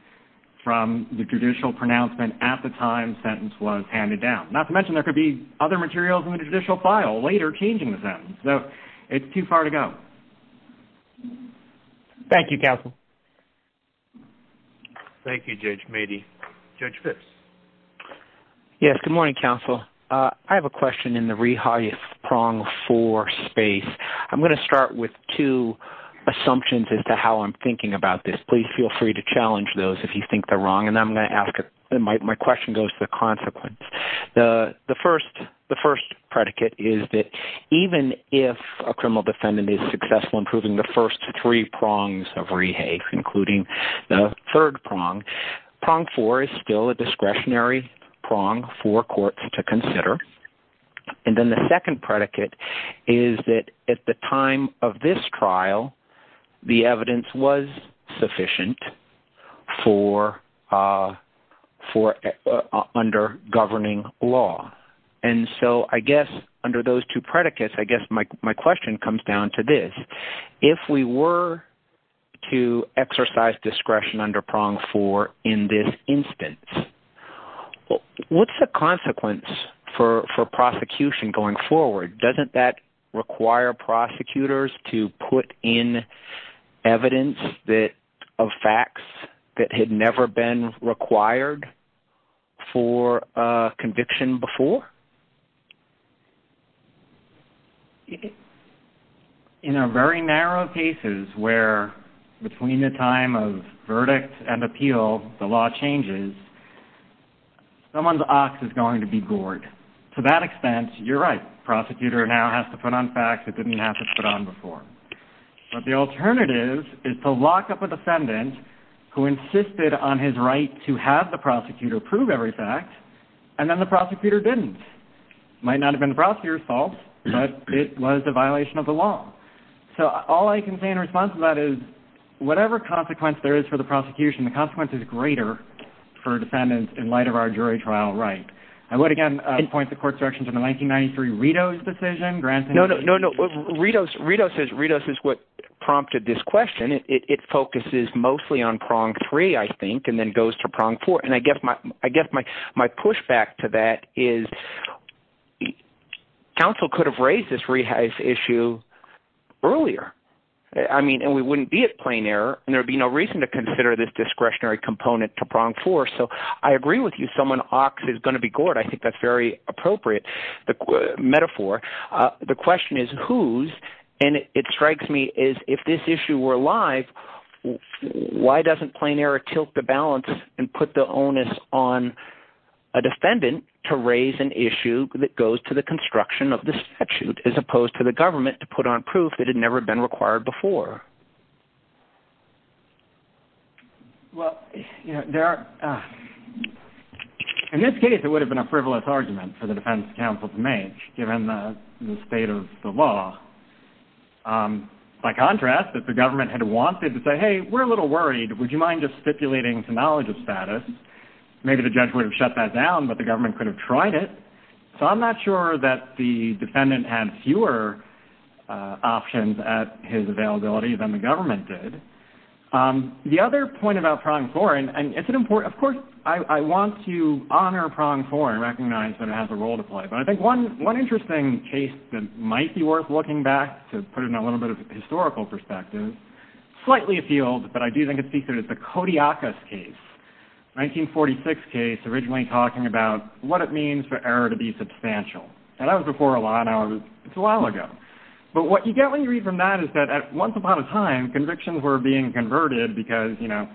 from the judicial pronouncement at the time the sentence was handed down. Not to mention there could be other materials in the judicial file later changing the sentence. So it's too far to go. Thank you, counsel. Thank you, Judge Meade. Judge Fitts. Yes, good morning, counsel. I have a question in the rehafe prong four space. I'm going to start with two assumptions as to how I'm thinking about this. Please feel free to challenge those if you think they're wrong, and I'm going to ask it. My question goes to the consequence. The first predicate is that even if a criminal defendant is successful in proving the first three prongs of rehafe, including the third prong, prong four is still a discretionary prong for courts to consider. And then the second predicate is that at the time of this trial, the evidence was sufficient for under governing law. And so I guess under those two predicates, I guess my question comes down to this. If we were to exercise discretion under prong four in this instance, what's the consequence for prosecution going forward? Doesn't that require prosecutors to put in evidence of facts that had never been required for a conviction before? In a very narrow cases where between the time of verdict and appeal the law changes, someone's ox is going to be gored. To that extent, you're right. Prosecutor now has to put on facts it didn't have to put on before. But the alternative is to lock up a defendant who insisted on his right to have the prosecutor prove every fact, and then the prosecutor didn't. It might not have been the prosecutor's fault, but it was a violation of the law. So all I can say in response to that is whatever consequence there is for the prosecution, the consequence is greater for defendants in light of our jury trial right. I would again point the court's direction to the 1993 Ritos decision. No, no. Ritos is what prompted this question. It focuses mostly on prong three, I think, and then goes to prong four. And I guess my pushback to that is counsel could have raised this rehash issue earlier. I mean, and we wouldn't be at plain error, and there would be no reason to consider this discretionary component to prong four. So I agree with you. Someone's ox is going to be gored. I think that's a very appropriate metaphor. The question is whose, and it strikes me as if this issue were alive, why doesn't plain error tilt the balance and put the onus on a defendant to raise an issue that goes to the construction of the statute as opposed to the government to put on proof that had never been required before? Well, in this case, it would have been a frivolous argument for the defense counsel to make, given the state of the law. By contrast, if the government had wanted to say, hey, we're a little worried, would you mind just stipulating to knowledge of status, maybe the judge would have shut that down, but the government could have tried it. So I'm not sure that the defendant had fewer options at his availability than the government did. The other point about prong four, and of course I want to honor prong four and recognize that it has a role to play, but I think one interesting case that might be worth looking back to put it in a little bit of a historical perspective, slightly a field, but I do think it's the Kodiakus case, 1946 case, originally talking about what it means for error to be substantial. And that was before a lot of, it's a while ago. But what you get when you read from that is that once upon a time, convictions were being converted because, you know,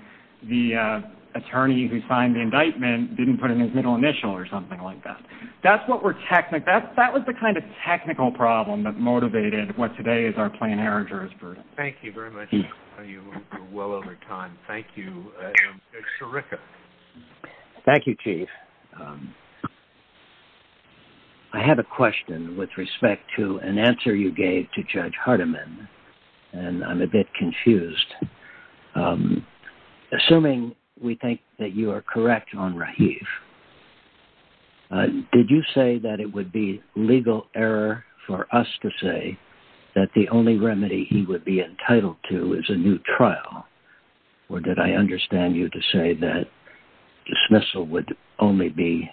the attorney who signed the indictment didn't put in his middle initial or something like that. That was the kind of technical problem that motivated what today is our plain error jurisprudence. Thank you very much. We're well over time. Thank you. Sirica. Thank you, Chief. I have a question with respect to an answer you gave to Judge Hardiman, and I'm a bit confused. Assuming we think that you are correct on Rahif, did you say that it would be legal error for us to say that the only remedy he would be entitled to is a new trial, or did I understand you to say that dismissal would only be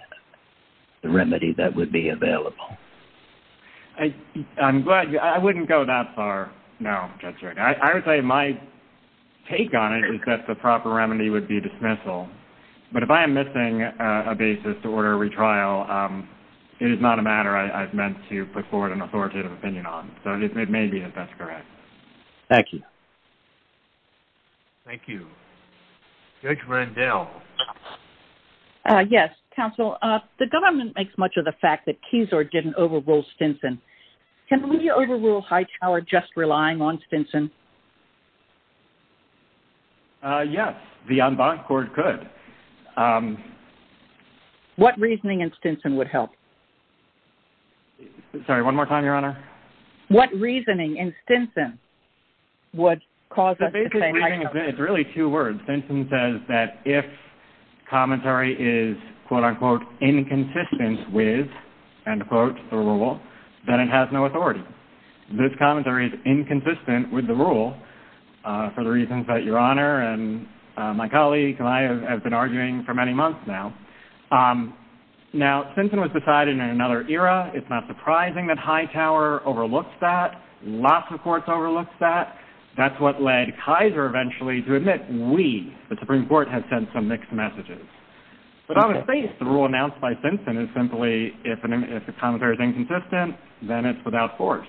the remedy that would be available? I'm glad you, I wouldn't go that far now, Judge Hardiman. I would say my take on it is that the proper remedy would be dismissal. But if I am missing a basis to order a retrial, it is not a matter I've meant to put forward an authoritative opinion on. So it may be that that's correct. Thank you. Thank you. Judge Rendell. Yes, counsel. The government makes much of the fact that Keysord didn't overrule Stinson. Can we overrule Hightower just relying on Stinson? Yes, the en banc court could. What reasoning in Stinson would help? Sorry, one more time, Your Honor. What reasoning in Stinson would cause us to say, is that if commentary is, quote-unquote, inconsistent with, end quote, the rule, then it has no authority. This commentary is inconsistent with the rule for the reasons that Your Honor and my colleague and I have been arguing for many months now. Now, Stinson was decided in another era. It's not surprising that Hightower overlooked that. Lots of courts overlooked that. That's what led Keysord eventually to admit we, the Supreme Court, had sent some mixed messages. The rule announced by Stinson is simply, if the commentary is inconsistent, then it's without force.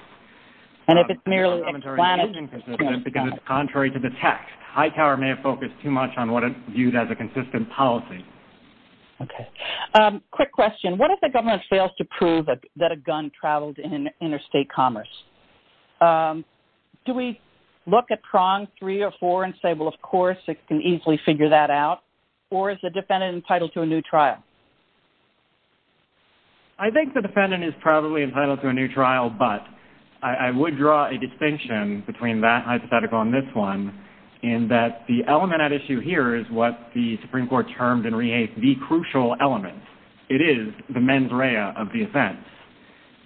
And if it's merely explanatory, it is inconsistent because it's contrary to the text. Hightower may have focused too much on what is viewed as a consistent policy. Okay. Quick question. What if the government fails to prove that a gun traveled in interstate commerce? Do we look at prong three or four and say, well, of course, it can easily figure that out? Or is the defendant entitled to a new trial? I think the defendant is probably entitled to a new trial, but I would draw a distinction between that hypothetical and this one, in that the element at issue here is what the Supreme Court termed in Re-Hate the crucial element. It is the mens rea of the offense.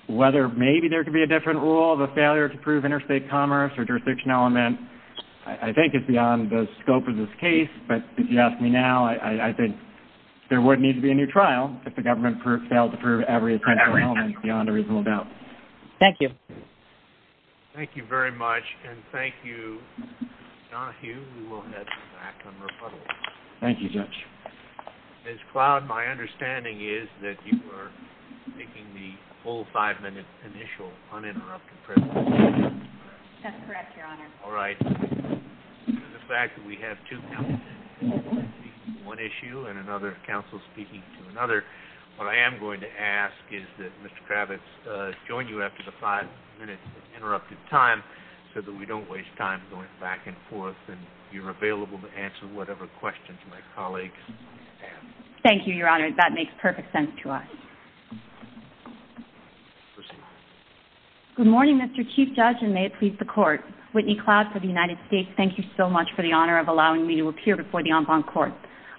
Whether maybe there could be a different rule of a failure to prove interstate commerce or jurisdiction element, I think it's beyond the scope of this case. But if you ask me now, I think there wouldn't need to be a new trial if the government failed to prove every essential element beyond a reasonable doubt. Thank you. Thank you very much, and thank you, John Hugh, we will head back and rebuttal. Thank you, Judge. Ms. Cloud, my understanding is that you were making the whole five-minute initial uninterrupted presentation. That's correct, Your Honor. All right. The fact that we have two counsels speaking to one issue and another counsel speaking to another, what I am going to ask is that Mr. Kravitz join you after the five-minute interrupted time so that we don't waste time going back and forth, and you're available to answer whatever questions my colleagues have. Thank you, Your Honor. That makes perfect sense to us. Good morning, Mr. Chief Judge, and may it please the Court. Whitney Cloud for the United States, thank you so much for the honor of allowing me to appear before the En Banc Court.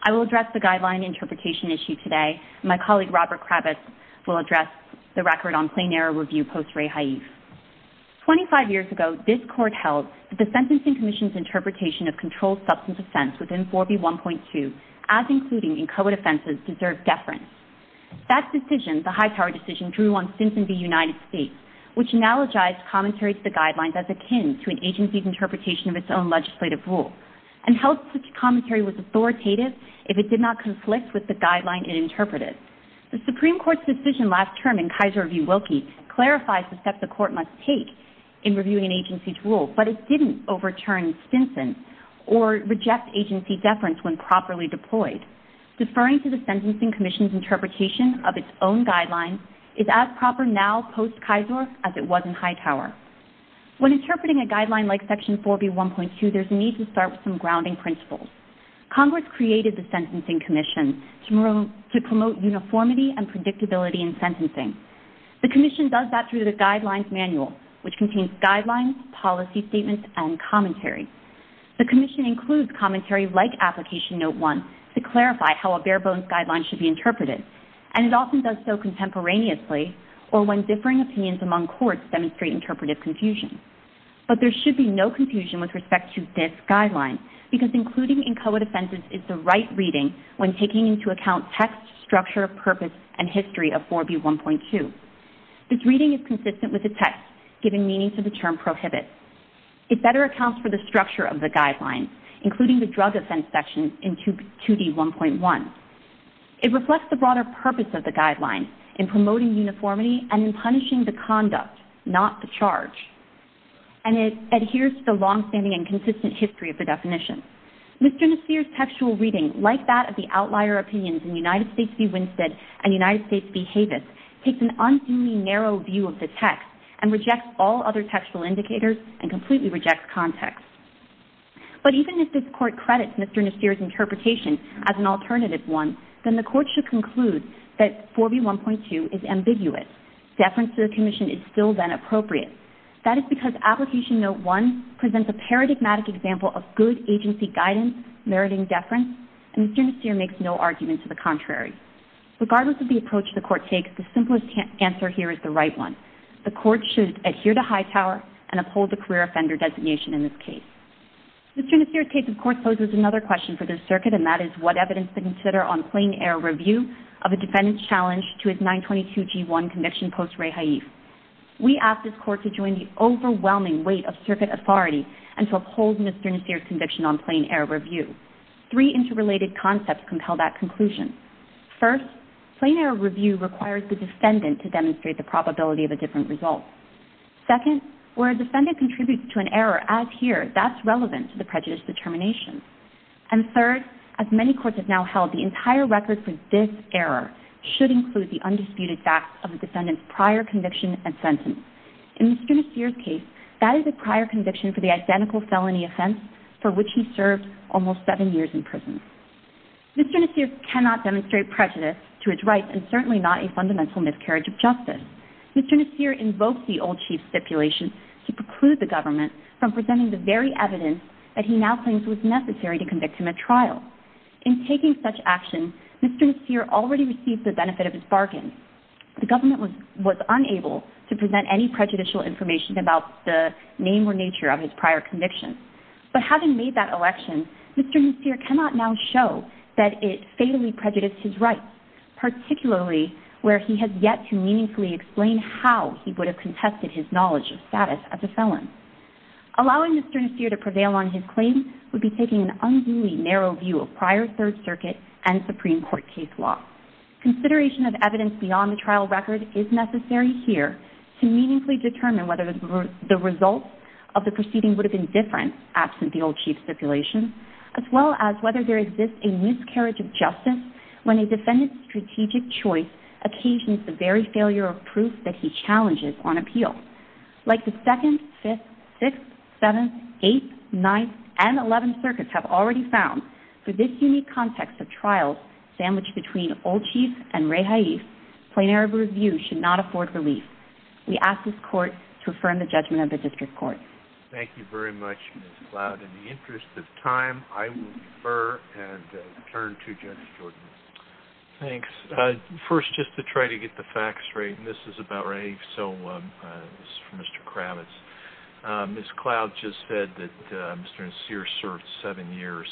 I will address the guideline interpretation issue today. My colleague, Robert Kravitz, will address the record on plain error review post-ray haif. Twenty-five years ago, this Court held that the Sentencing Commission's interpretation of controlled substance offense within 4B1.2, as included in co-defenses, deserves deference. That decision, the high-power decision, drew on symptoms in the United States, which analogized commentary to the guidelines as akin to an agency's interpretation of its own legislative rules and held such commentary was authoritative if it did not conflict with the guideline it interpreted. The Supreme Court's decision last term, in Kaiser v. Wilkie, clarified the step the Court must take in reviewing an agency's rules, but it didn't overturn Stinson or reject agency deference when properly deployed. Deferring to the Sentencing Commission's interpretation of its own guidelines is as proper now, post-Kaiser, as it was in high power. When interpreting a guideline like Section 4B1.2, there's a need to start with some grounding principles. Congress created the Sentencing Commission to promote uniformity and predictability in sentencing. The Commission does that through the Guidelines Manual, which contains guidelines, policy statements, and commentary. The Commission includes commentary like Application Note 1 to clarify how a bare-bones guideline should be interpreted, and it often does so contemporaneously or when differing opinions among courts demonstrate interpretive confusion. But there should be no confusion with respect to this guideline because including incoherent offenses is the right reading when taking into account text, structure, purpose, and history of 4B1.2. This reading is consistent with the text, giving meaning to the term prohibit. It better accounts for the structure of the guidelines, including the drug offense section in 2D1.1. It reflects the broader purpose of the guidelines in promoting uniformity and in punishing the conduct, not the charge. And it adheres to the long-standing and consistent history of the definition. Mr. Nassir's textual reading, like that of the outlier opinions in United States v. Winstead and United States v. Havis, takes an unseemly narrow view of the text and rejects all other textual indicators and completely rejects context. But even if this court credits Mr. Nassir's interpretation as an alternative one, then the court should conclude that 4B1.2 is ambiguous. Deference to the commission is still then appropriate. That is because Application Note 1 presents a paradigmatic example of good agency guidance meriting deference, and Mr. Nassir makes no argument to the contrary. Regardless of the approach the court takes, the simplest answer here is the right one. The court should adhere to Hightower and uphold the career offender designation in this case. Mr. Nassir's case, of course, poses another question for this circuit, and that is what evidence to consider on plain-air review of a defendant's challenge to his 922G1 conviction post-Ray Haif. We ask this court to join the overwhelming weight of circuit authority and to uphold Mr. Nassir's conviction on plain-air review. Three interrelated concepts compel that conclusion. First, plain-air review requires the defendant to demonstrate the probability of a different result. Second, where a defendant contributes to an error as here, that's relevant to the prejudice determination. And third, as many courts have now held, the entire record for this error should include the undisputed facts of the defendant's prior conviction and sentence. In Mr. Nassir's case, that is a prior conviction for the identical felony offense for which he served almost seven years in prison. Mr. Nassir cannot demonstrate prejudice to his rights and certainly not a fundamental miscarriage of justice. Mr. Nassir invoked the old chief stipulation to preclude the government from presenting the very evidence that he now thinks was necessary to convict him at trial. In taking such action, Mr. Nassir already received the benefit of his bargain. The government was unable to present any prejudicial information about the name or nature of his prior conviction. But having made that election, Mr. Nassir cannot now show that it fatally prejudiced his rights, particularly where he has yet to meaningfully explain how he would have contested his knowledge of status as a felon. Allowing Mr. Nassir to prevail on his claim would be taking an unduly narrow view of prior Third Circuit and Supreme Court case law. Consideration of evidence beyond the trial record is necessary here to meaningfully determine whether the results of the proceeding would have been different absent the old chief stipulation, as well as whether there exists a miscarriage of justice when a defendant's strategic choice occasions the very failure of proof that he challenges on appeal. Like the 2nd, 5th, 6th, 7th, 8th, 9th, and 11th Circuits have already found, for this unique context of trial, sandwiched between old chief and Ray Haise, plenary review should not afford relief. We ask this Court to affirm the judgment of the District Court. Thank you very much, Ms. Cloud. In the interest of time, I will defer and turn to Jenny Jordan. Thanks. First, just to try to get the facts straight, and this is about Ray, so this is for Mr. Kravitz. Ms. Cloud just said that Mr. Nassir served 7 years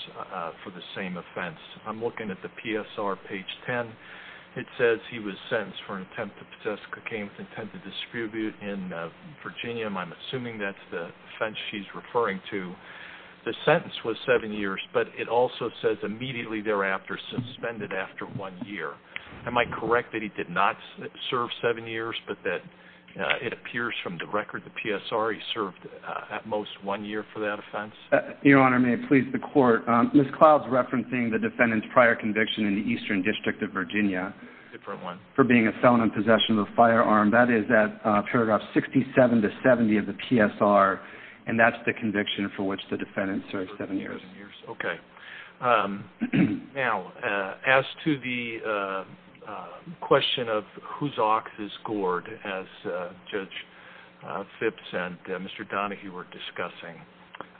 for the same offense. I'm looking at the PSR, page 10. It says he was sentenced for intent to possess cocaine with intent to distribute in Virginia, and I'm assuming that's the offense she's referring to. The sentence was 7 years, but it also says immediately thereafter, suspended after 1 year. Am I correct that he did not serve 7 years, but that it appears from the record, the PSR, he served at most 1 year for that offense? Your Honor, may it please the Court, Ms. Cloud is referencing the defendant's prior conviction in the Eastern District of Virginia for being a felon in possession of a firearm. That is at paragraphs 67 to 70 of the PSR, and that's the conviction for which the defendant served 7 years. Okay. Now, as to the question of whose ox is gored, as Judge Phipps and Mr. Donahue were discussing,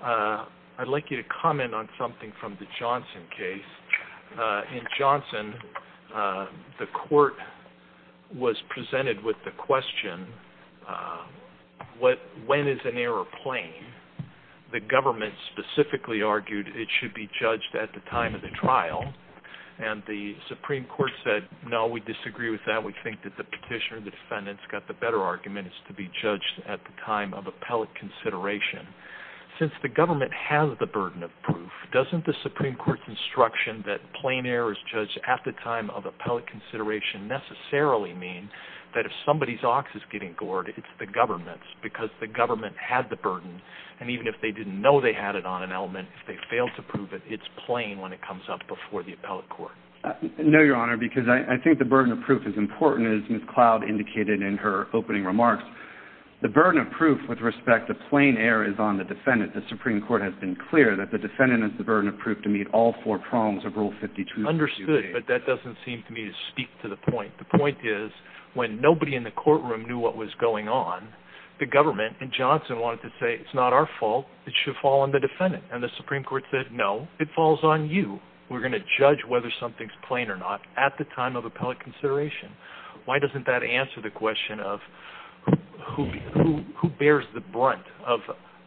I'd like you to comment on something from the Johnson case. In Johnson, the Court was presented with the question, when is an error plain? The government specifically argued it should be judged at the time of the trial, and the Supreme Court said, no, we disagree with that. We think that the petitioner defendant's got the better argument. It's to be judged at the time of appellate consideration. Since the government has the burden of proof, doesn't the Supreme Court's instruction that plain error is judged at the time of appellate consideration necessarily mean that if somebody's ox is getting gored, it's the government's if the government had the burden, and even if they didn't know they had it on an element, if they failed to prove it, it's plain when it comes up before the appellate court? No, Your Honor, because I think the burden of proof is important, as Ms. Cloud indicated in her opening remarks. The burden of proof with respect to plain error is on the defendant. The Supreme Court has been clear that the defendant has the burden of proof to meet all four prongs of Rule 52. Understood, but that doesn't seem to me to speak to the point. The point is, when nobody in the courtroom knew what was going on, the government and Johnson wanted to say, it's not our fault, it should fall on the defendant. And the Supreme Court said, no, it falls on you. We're going to judge whether something's plain or not at the time of appellate consideration. Why doesn't that answer the question of who bears the brunt of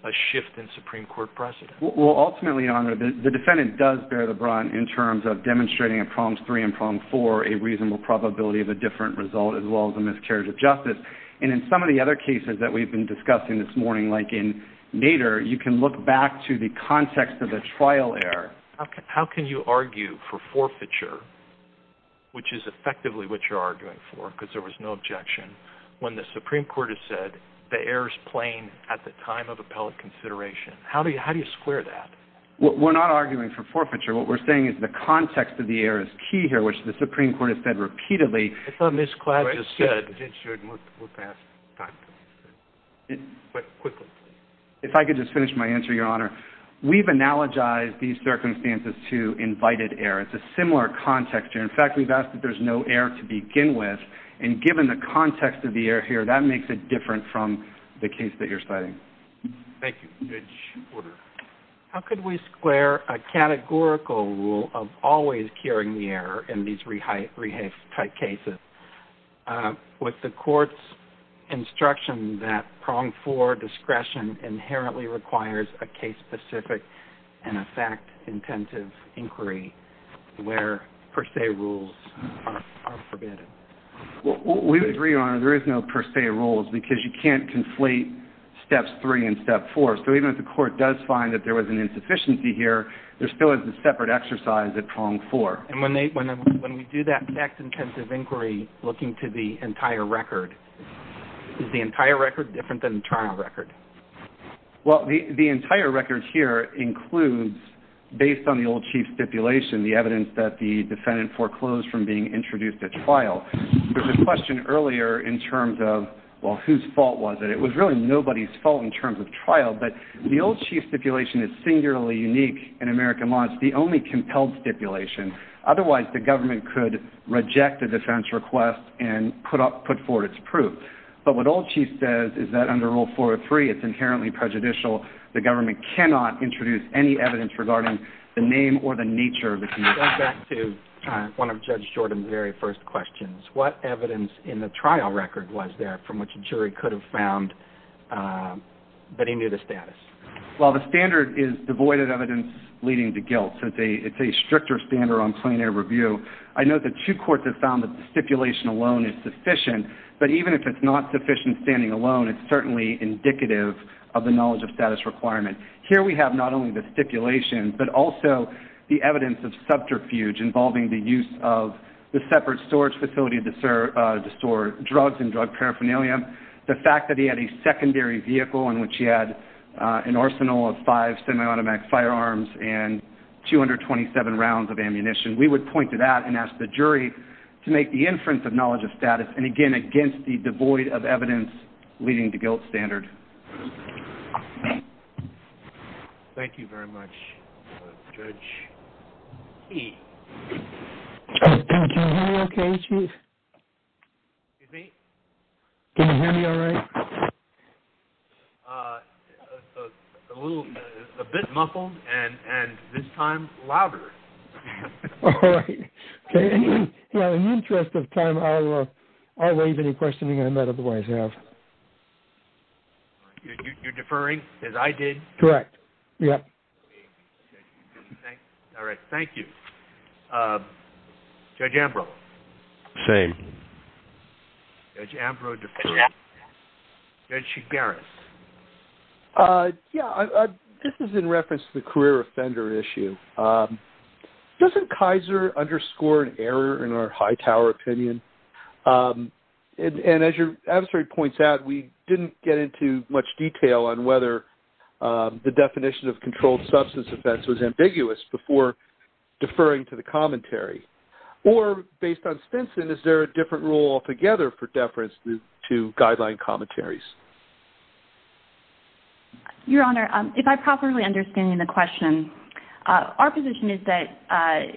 a shift in Supreme Court precedent? Well, ultimately, Your Honor, the defendant does bear the brunt in terms of demonstrating in prongs three and prong four a reasonable probability of a different result as well as a miscarriage of justice. And in some of the other cases that we've been discussing this morning, like in Nader, you can look back to the context of a trial error. How can you argue for forfeiture, which is effectively what you're arguing for, because there was no objection, when the Supreme Court has said the error is plain at the time of appellate consideration? How do you square that? We're not arguing for forfeiture. What we're saying is the context of the error is key here, which the Supreme Court has said repeatedly. I thought Ms. Klapp just said... If I could just finish my answer, Your Honor. We've analogized these circumstances to invited error. It's a similar context here. In fact, we've asked that there's no error to begin with. And given the context of the error here, that makes it different from the case that you're studying. Thank you. How could we square a categorical rule of always curing the error in these rehab type cases with the court's instruction that pronged floor discretion inherently requires a case-specific and a fact-intensive inquiry where per se rules are forbidden? We would agree, Your Honor, there is no per se rules, because you can't conflate steps three and step four. So even if the court does find that there was an insufficiency here, there still is a separate exercise at pronged floor. And when we do that fact-intensive inquiry looking to the entire record, is the entire record different than the trial record? Well, the entire record here includes, based on the old chief stipulation, the evidence that the defendant foreclosed from being introduced at trial. There was a question earlier in terms of, well, whose fault was it? It was really nobody's fault in terms of trial, but the old chief stipulation is singularly unique in American law. It's the only compelled stipulation. Otherwise, the government could reject the defendant's request and put forward its proof. But what old chief says is that under Rule 403, it's inherently prejudicial. The government cannot introduce any evidence regarding the name or the nature Let's go back to one of Judge Jordan's very first questions. What evidence in the trial record was there from which a jury could have found that he knew the status? Well, the standard is devoid of evidence leading to guilt. It's a stricter standard on plenary review. I know that two courts have found that the stipulation alone is sufficient, but even if it's not sufficient standing alone, it's certainly indicative of the knowledge of status requirement. Here we have not only the stipulation, but also the evidence of subterfuge involving the use of the separate storage facility to store drugs and drug paraphernalia, the fact that he had a secondary vehicle in which he had an arsenal of five semi-automatic firearms and 227 rounds of ammunition. We would point to that and ask the jury to make the inference of knowledge of status, and again, against the devoid of evidence leading to guilt standard. Thank you very much, Judge. Judge, are you okay? Excuse me? Can you hear me all right? A little, a bit muffled and this time louder. All right. In the interest of time, I'll raise any questions you guys might otherwise have. You're deferring as I did? Correct. Yeah. All right. Thank you. Judge Ambrose? Same. Judge Ambrose deferring. Judge Chigaris? Yeah, this is in reference to the career offender issue. Doesn't Kaiser underscore an error in our Hightower opinion? And as your adversary points out, we didn't get into much detail on whether the definition of controlled substance offense was ambiguous before deferring to the commentary. Or based on Stinson, is there a different rule altogether for deference to guideline commentaries? Your Honor, if I'm properly understanding the question, our position is that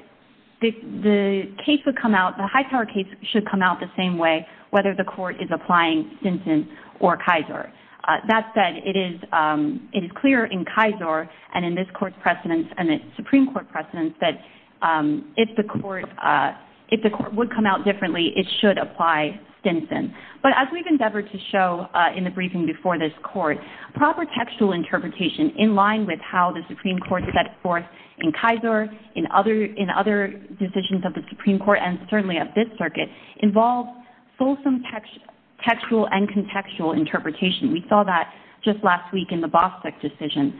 the case would come out, the Hightower case should come out the same way whether the court is applying Stinson or Kaiser. That said, it is clear in Kaiser and in this court's precedence and the Supreme Court precedence that if the court would come out differently, it should apply Stinson. But as we've endeavored to show in the briefing before this court, proper textual interpretation in line with how the Supreme Court set forth in Kaiser, in other decisions of the Supreme Court and certainly of this circuit, involves fulsome textual and contextual interpretation. We saw that just last week in the Bostick decision.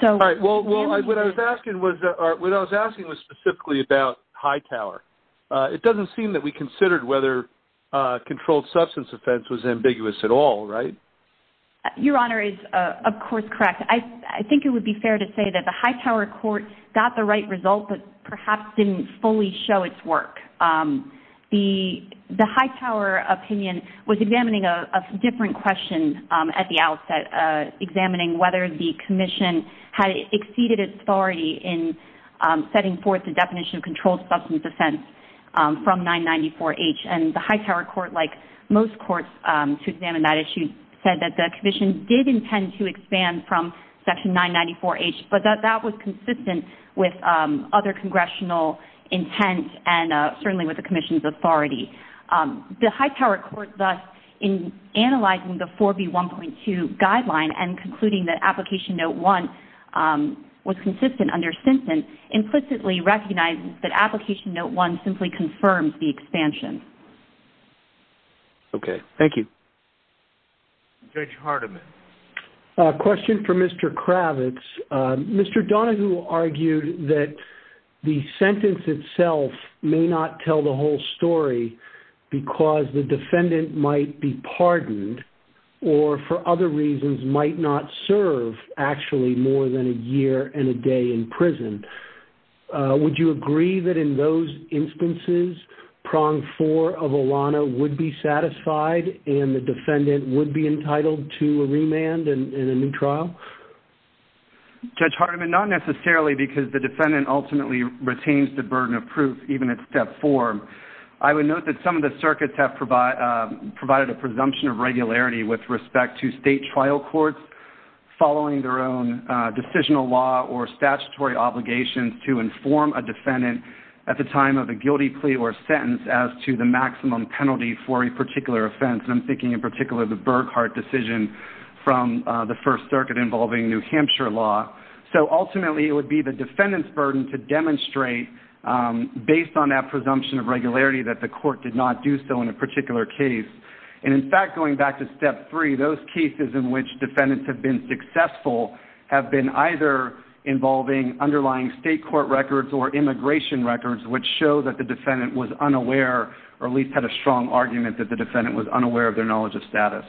Well, what I was asking was specifically about Hightower. It doesn't seem that we considered whether controlled substance offense was ambiguous at all, right? Your Honor is of course correct. I think it would be fair to say that the Hightower court got the right result but perhaps didn't fully show its work. The Hightower opinion was examining a different question at the outset, examining whether the commission had exceeded its authority in setting forth the definition of controlled substance offense from 994H. And the Hightower court, like most courts to examine that issue, said that the commission did intend to expand from section 994H but that that was consistent with other congressional intent and certainly with the commission's authority. The Hightower court thus, in analyzing the 4B1.2 guideline and concluding that application note 1 was consistent under sentence, implicitly recognizes that application note 1 simply confirms the expansion. Okay. Thank you. Judge Hardiman. A question for Mr. Kravitz. Mr. Donahue argued that the sentence itself may not tell the whole story because the defendant might be pardoned or for other reasons might not serve actually more than a year and a day in prison. Would you agree that in those instances, prong four of AWANA would be satisfied and the defendant would be entitled to remand in a new trial? Judge Hardiman, not necessarily because the defendant ultimately retains the burden of proof even at step four. I would note that some of the circuits have provided a presumption of regularity with respect to state trial courts following their own decisional law or statutory obligations to inform a defendant at the time of a guilty plea or sentence as to the maximum penalty for a particular offense. I'm thinking in particular of the Burghardt decision from the First Circuit involving New Hampshire law. Ultimately, it would be the defendant's burden to demonstrate, based on that presumption of regularity, that the court did not do so in a particular case. In fact, going back to step three, those cases in which defendants have been successful have been either involving underlying state court records or immigration records which show that the defendant was unaware or at least had a strong argument that the defendant was unaware of their knowledge of status.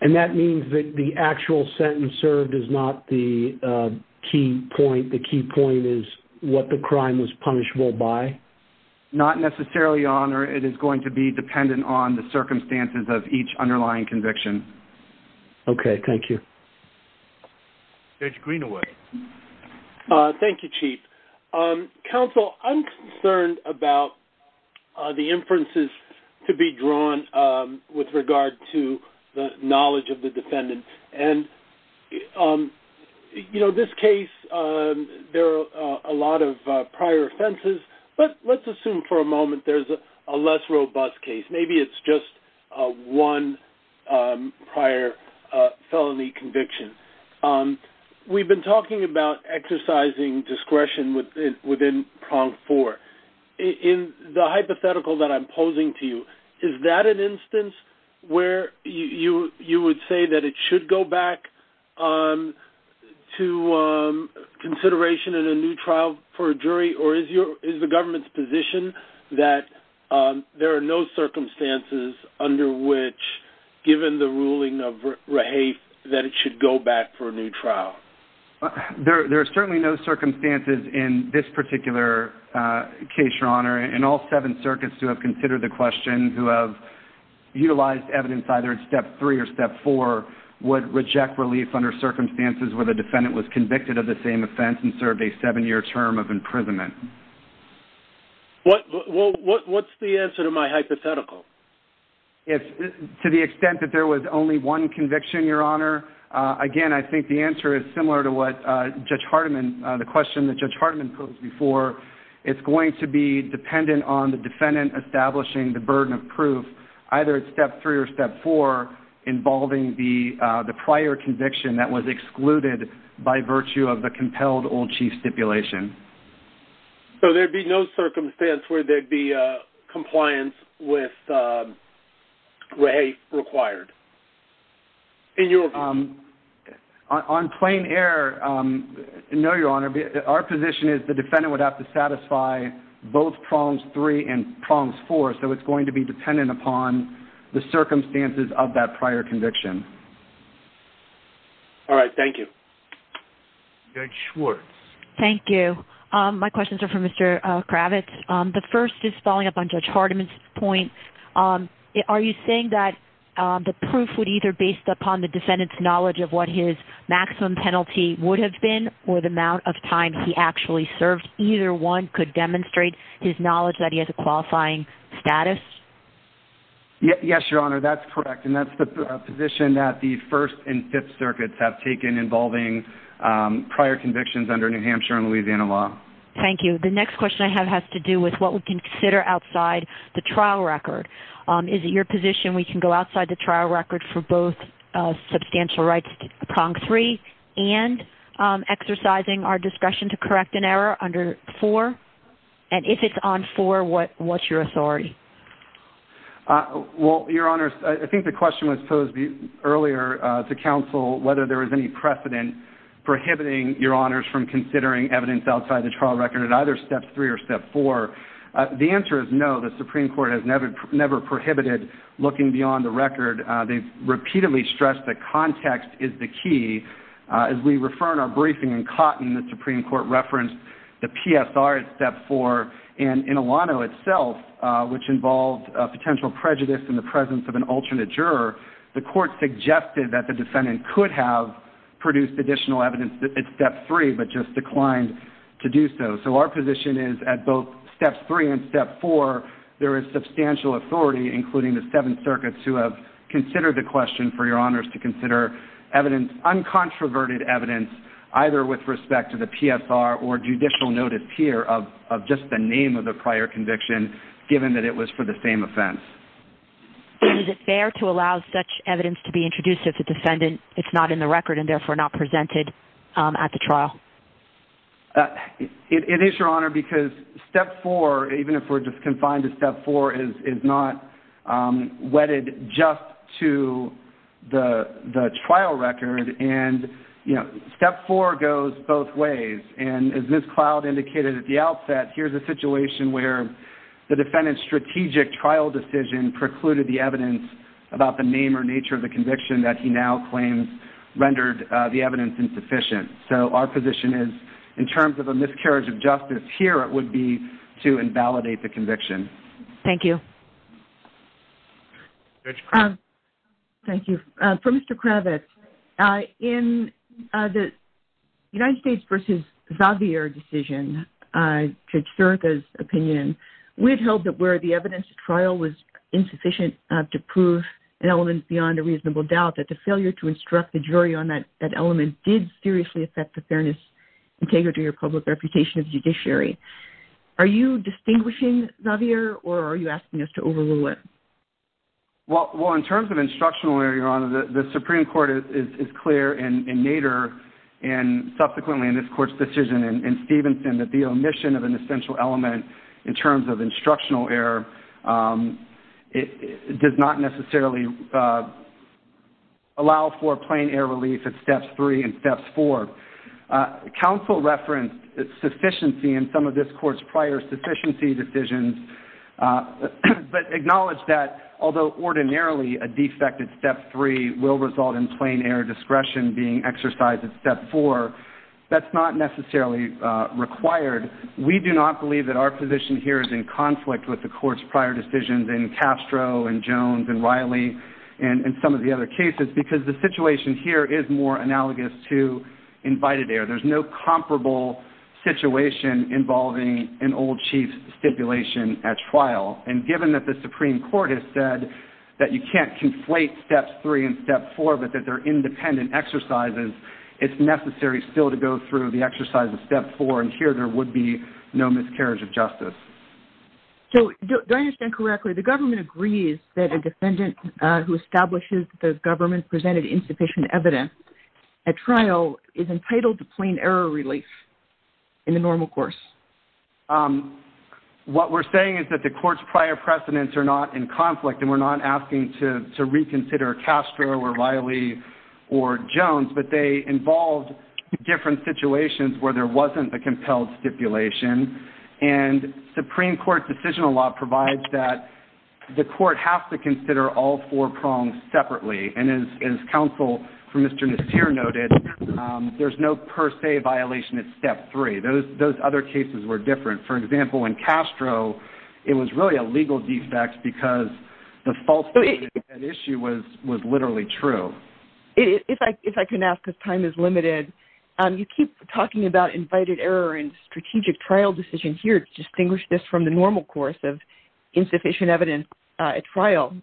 And that means that the actual sentence served is not the key point. The key point is what the crime was punishable by? Not necessarily, Your Honor. It is going to be dependent on the circumstances of each underlying conviction. Okay, thank you. Judge Greenaway. Thank you, Chief. Counsel, I'm concerned about the inferences to be drawn with regard to the knowledge of the defendant. And, you know, this case, there are a lot of prior offenses, but let's assume for a moment there's a less robust case. Maybe it's just one prior felony conviction. We've been talking about exercising discretion within prong four. In the hypothetical that I'm posing to you, is that an instance where you would say that it should go back to consideration in a new trial for a jury, or is the government's position that there are no circumstances under which, given the ruling of Raheith, that it should go back for a new trial? There are certainly no circumstances in this particular case, Your Honor. And all seven circuits who have considered the question, who have utilized evidence either in step three or step four, would reject relief under circumstances where the defendant was convicted of the same offense and served a seven-year term of imprisonment. What's the answer to my hypothetical? To the extent that there was only one conviction, Your Honor, again, I think the answer is similar to what Judge Hardiman, the question that Judge Hardiman posed before. It's going to be dependent on the defendant establishing the burden of proof, either step three or step four, involving the prior conviction that was excluded by virtue of the compelled old chief stipulation. So there'd be no circumstance where there'd be compliance with Raheith required? On plain error, no, Your Honor. Our position is the defendant would have to satisfy both prongs three and prongs four, so it's going to be dependent upon the circumstances of that prior conviction. All right. Thank you. Judge Schwartz. Thank you. My questions are for Mr. Kravitz. The first is following up on Judge Hardiman's point. Are you saying that the proof would either based upon the defendant's knowledge of what his maximum penalty would have been or the amount of time he actually served, either one could demonstrate his knowledge that he has a qualifying status? Yes, Your Honor, that's correct. And that's the position that the First and Fifth Circuits have taken involving prior convictions under New Hampshire and Louisiana law. Thank you. The next question I have has to do with what we consider outside the trial record. Is it your position we can go outside the trial record for both substantial rights to prong three and exercising our discussion to correct an error under four? And if it's on four, what's your authority? Well, Your Honor, I think the question was posed earlier to counsel whether there was any precedent prohibiting Your Honors from considering evidence outside the trial record at either Step 3 or Step 4. The answer is no. The Supreme Court has never prohibited looking beyond the record. They've repeatedly stressed that context is the key. As we refer in our briefing in Cotton, the Supreme Court referenced the PSR at Step 4, and in Illano itself, which involved a potential prejudice in the presence of an alternate juror, the court suggested that the defendant could have produced additional evidence at Step 3 but just declined to do so. So our position is at both Step 3 and Step 4, there is substantial authority, including the Seventh Circuit, to consider the question for Your Honors to consider uncontroverted evidence either with respect to the PSR or judicial notice here of just the name of the prior conviction, given that it was for the same offense. Is it fair to allow such evidence to be introduced if the defendant is not in the record and therefore not presented at the trial? It is, Your Honor, because Step 4, even if we're just confined to Step 4, is not wedded just to the trial record. And, you know, Step 4 goes both ways. And as Ms. Cloud indicated at the outset, here's a situation where the defendant's strategic trial decision precluded the evidence about the name or nature of the conviction that he now claims rendered the evidence insufficient. So our position is, in terms of a miscarriage of justice, here it would be to invalidate the conviction. Thank you. Thank you. For Mr. Kravitz, in the United States v. Xavier decision, Judge Sirica's opinion, we had held that where the evidence at trial was insufficient to prove an element beyond a reasonable doubt, that the failure to instruct the jury on that element did seriously affect the fairness and integrity of public reputation of judiciary. Are you distinguishing Xavier, or are you asking us to overrule it? Well, in terms of instructional error, Your Honor, the Supreme Court is clear in Nader and subsequently in this court's decision in Stevenson that the omission of an essential element in terms of instructional error does not necessarily allow for a plain-error relief at Steps 3 and Steps 4. Counsel referenced sufficiency in some of this court's prior sufficiency decisions, but acknowledged that although ordinarily a defect at Step 3 will result in plain-error discretion being exercised at Step 4, that's not necessarily required. We do not believe that our position here is in conflict with the court's prior decisions in Castro and Jones and Riley and some of the other cases because the situation here is more analogous to invited error. There's no comparable situation involving an old chief stipulation at trial, and given that the Supreme Court has said that you can't conflate Steps 3 and Step 4 but that they're independent exercises, it's necessary still to go through the exercise of Step 4, and here there would be no miscarriage of justice. So, do I understand correctly, the government agrees that a defendant who establishes that the government presented insufficient evidence at trial is entitled to plain-error relief in the normal course? What we're saying is that the court's prior precedents are not in conflict and we're not asking to reconsider Castro or Riley or Jones, but they involved different situations where there wasn't a compelled stipulation, and Supreme Court decisional law provides that the court has to consider all four prongs separately, and as counsel for Mr. Nasir noted, there's no per se violation at Step 3. Those other cases were different. For example, in Castro, it was really a legal defect because the falsehood of that issue was literally true. If I can ask, because time is limited, you keep talking about invited error and strategic trial decision here.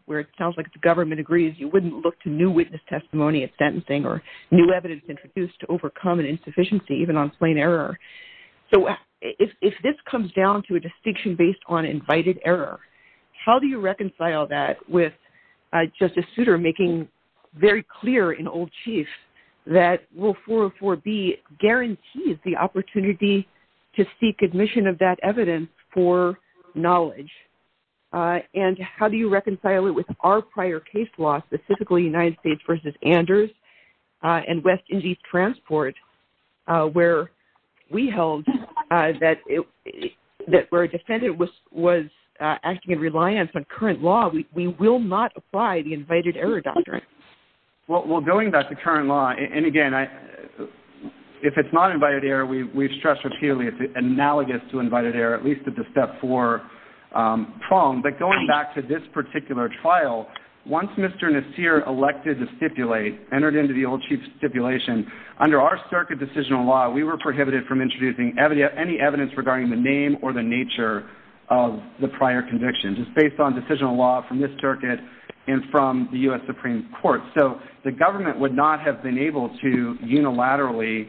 Where it sounds like the government agrees you wouldn't look to new witness testimony at sentencing or new evidence introduced to overcome an insufficiency, even on plain error. So, if this comes down to a distinction based on invited error, how do you reconcile that with Justice Souter making very clear in Old Chiefs that Rule 404B guarantees the opportunity to seek admission of that evidence for knowledge? And how do you reconcile it with our prior case law, specifically United States v. Anders and West Indies Transport, where we held that where a defendant was acting in reliance on current law, we will not apply the invited error doctrine. Well, going back to current law, and again, if it's not invited error, we stress repeatedly it's analogous to invited error, at least at the step four prong. But going back to this particular trial, once Mr. Nasir elected to stipulate, entered into the Old Chiefs stipulation, under our circuit decisional law, we were prohibited from introducing any evidence regarding the name or the nature of the prior conviction, just based on decisional law from this circuit and from the U.S. Supreme Court. So the government would not have been able to unilaterally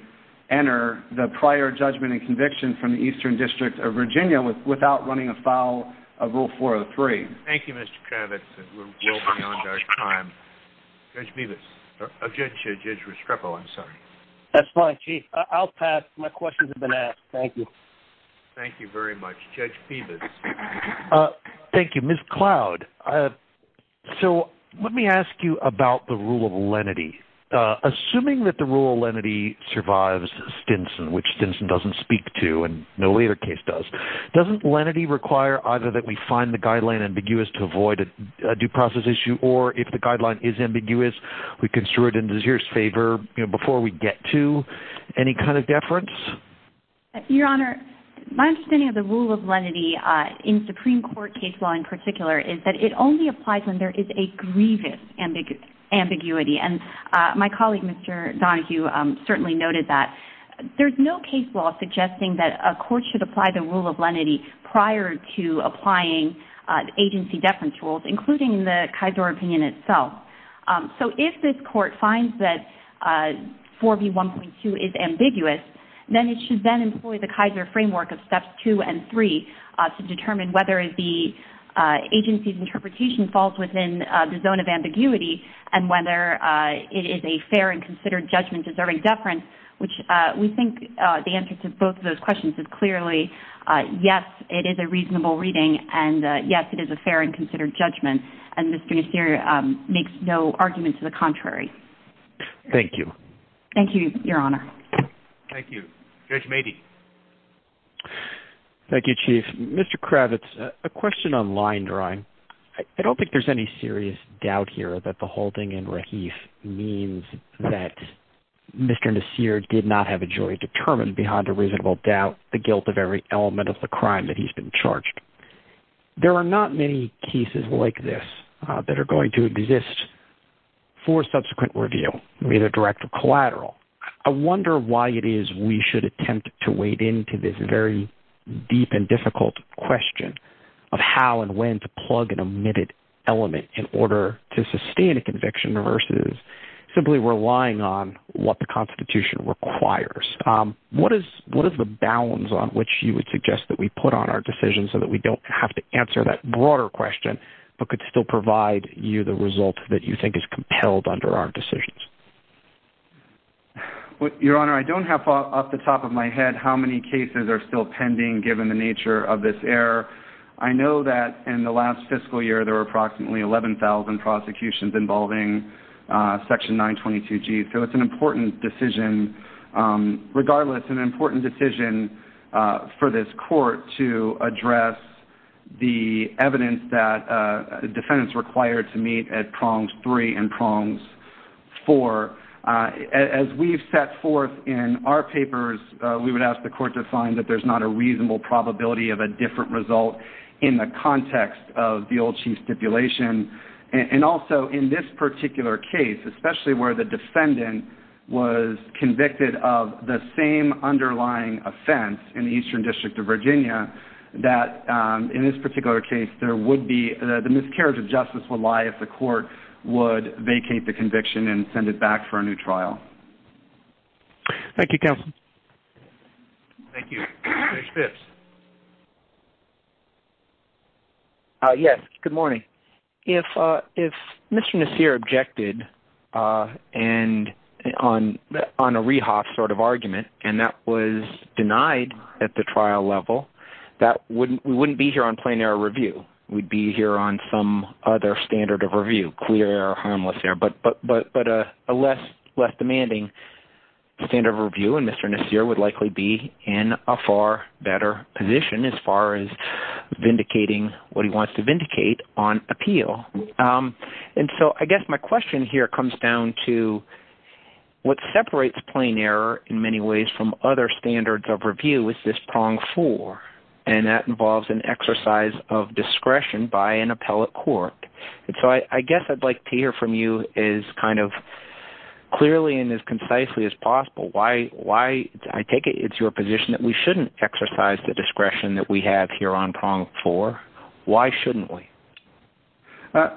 enter the prior judgment and conviction from the Eastern District of Virginia without running afoul of Rule 403. Thank you, Mr. Kravitz. We're well beyond our time. Judge Ristrepo, I'm sorry. That's fine, Chief. I'll pass. My questions have been asked. Thank you. Thank you very much. Judge Peebus. Thank you. Ms. Cloud, so let me ask you about the rule of lenity. Assuming that the rule of lenity survives Stinson, which Stinson doesn't speak to and no later case does, doesn't lenity require either that we find the guideline ambiguous to avoid a due process issue, or if the guideline is ambiguous, we construe it in Nasir's favor before we get to? Any kind of deference? Your Honor, my understanding of the rule of lenity in Supreme Court case law in particular is that it only applies when there is a grievous ambiguity. And my colleague, Mr. Donohue, certainly noted that. There's no case law suggesting that a court should apply the rule of lenity prior to applying agency deference rules, including the Kaiser opinion itself. So if this court finds that 4B1.2 is ambiguous, then it should then employ the Kaiser framework of steps two and three to determine whether the agency's interpretation falls within the zone of ambiguity and whether it is a fair and considered judgment deserving deference, which we think the answer to both of those questions is clearly, yes, it is a reasonable reading, and yes, it is a fair and considered judgment. And Mr. Nasir makes no argument to the contrary. Thank you. Thank you, Your Honor. Thank you. Judge Meade. Thank you, Chief. Mr. Kravitz, a question on line drawing. I don't think there's any serious doubt here that the holding in Rahif means that Mr. Nasir did not have a jury determined behind a reasonable doubt the guilt of every element of the crime that he's been charged. There are not many cases like this that are going to exist for subsequent review, either direct or collateral. I wonder why it is we should attempt to wade into this very deep and difficult question of how and when to plug an omitted element in order to sustain a conviction versus simply relying on what the Constitution requires. What is the balance on which you would suggest that we put on our decision so that we don't have to answer that broader question but could still provide you the result that you think is compelled under our decisions? Your Honor, I don't have off the top of my head how many cases are still pending given the nature of this error. I know that in the last fiscal year there were approximately 11,000 prosecutions involving Section 922G, so it's an important decision. Regardless, an important decision for this Court to address the evidence that defendants required to meet at Prongs 3 and Prongs 4. As we've set forth in our papers, we would ask the Court to find that there's not a reasonable probability of a different result in the context of the Old Chief stipulation. Also, in this particular case, especially where the defendant was convicted of the same underlying offense in the Eastern District of Virginia, that in this particular case the miscarriage of justice would lie if the Court would vacate the conviction and send it back for a new trial. Thank you, counsel. Thank you. Judge Phipps. Yes, good morning. If Mr. Nasir objected on a Rehoff sort of argument and that was denied at the trial level, we wouldn't be here on plain error review. We'd be here on some other standard of review, clear or harmless error, but a less demanding standard of review in Mr. Nasir would likely be in a far better position as far as vindicating what he wants to vindicate on appeal. I guess my question here comes down to what separates plain error in many ways from other standards of review is this Prong 4, and that involves an exercise of discretion by an appellate court. I guess I'd like to hear from you as clearly and as concisely as possible why I take it it's your position that we shouldn't exercise the discretion that we have here on Prong 4. Why shouldn't we?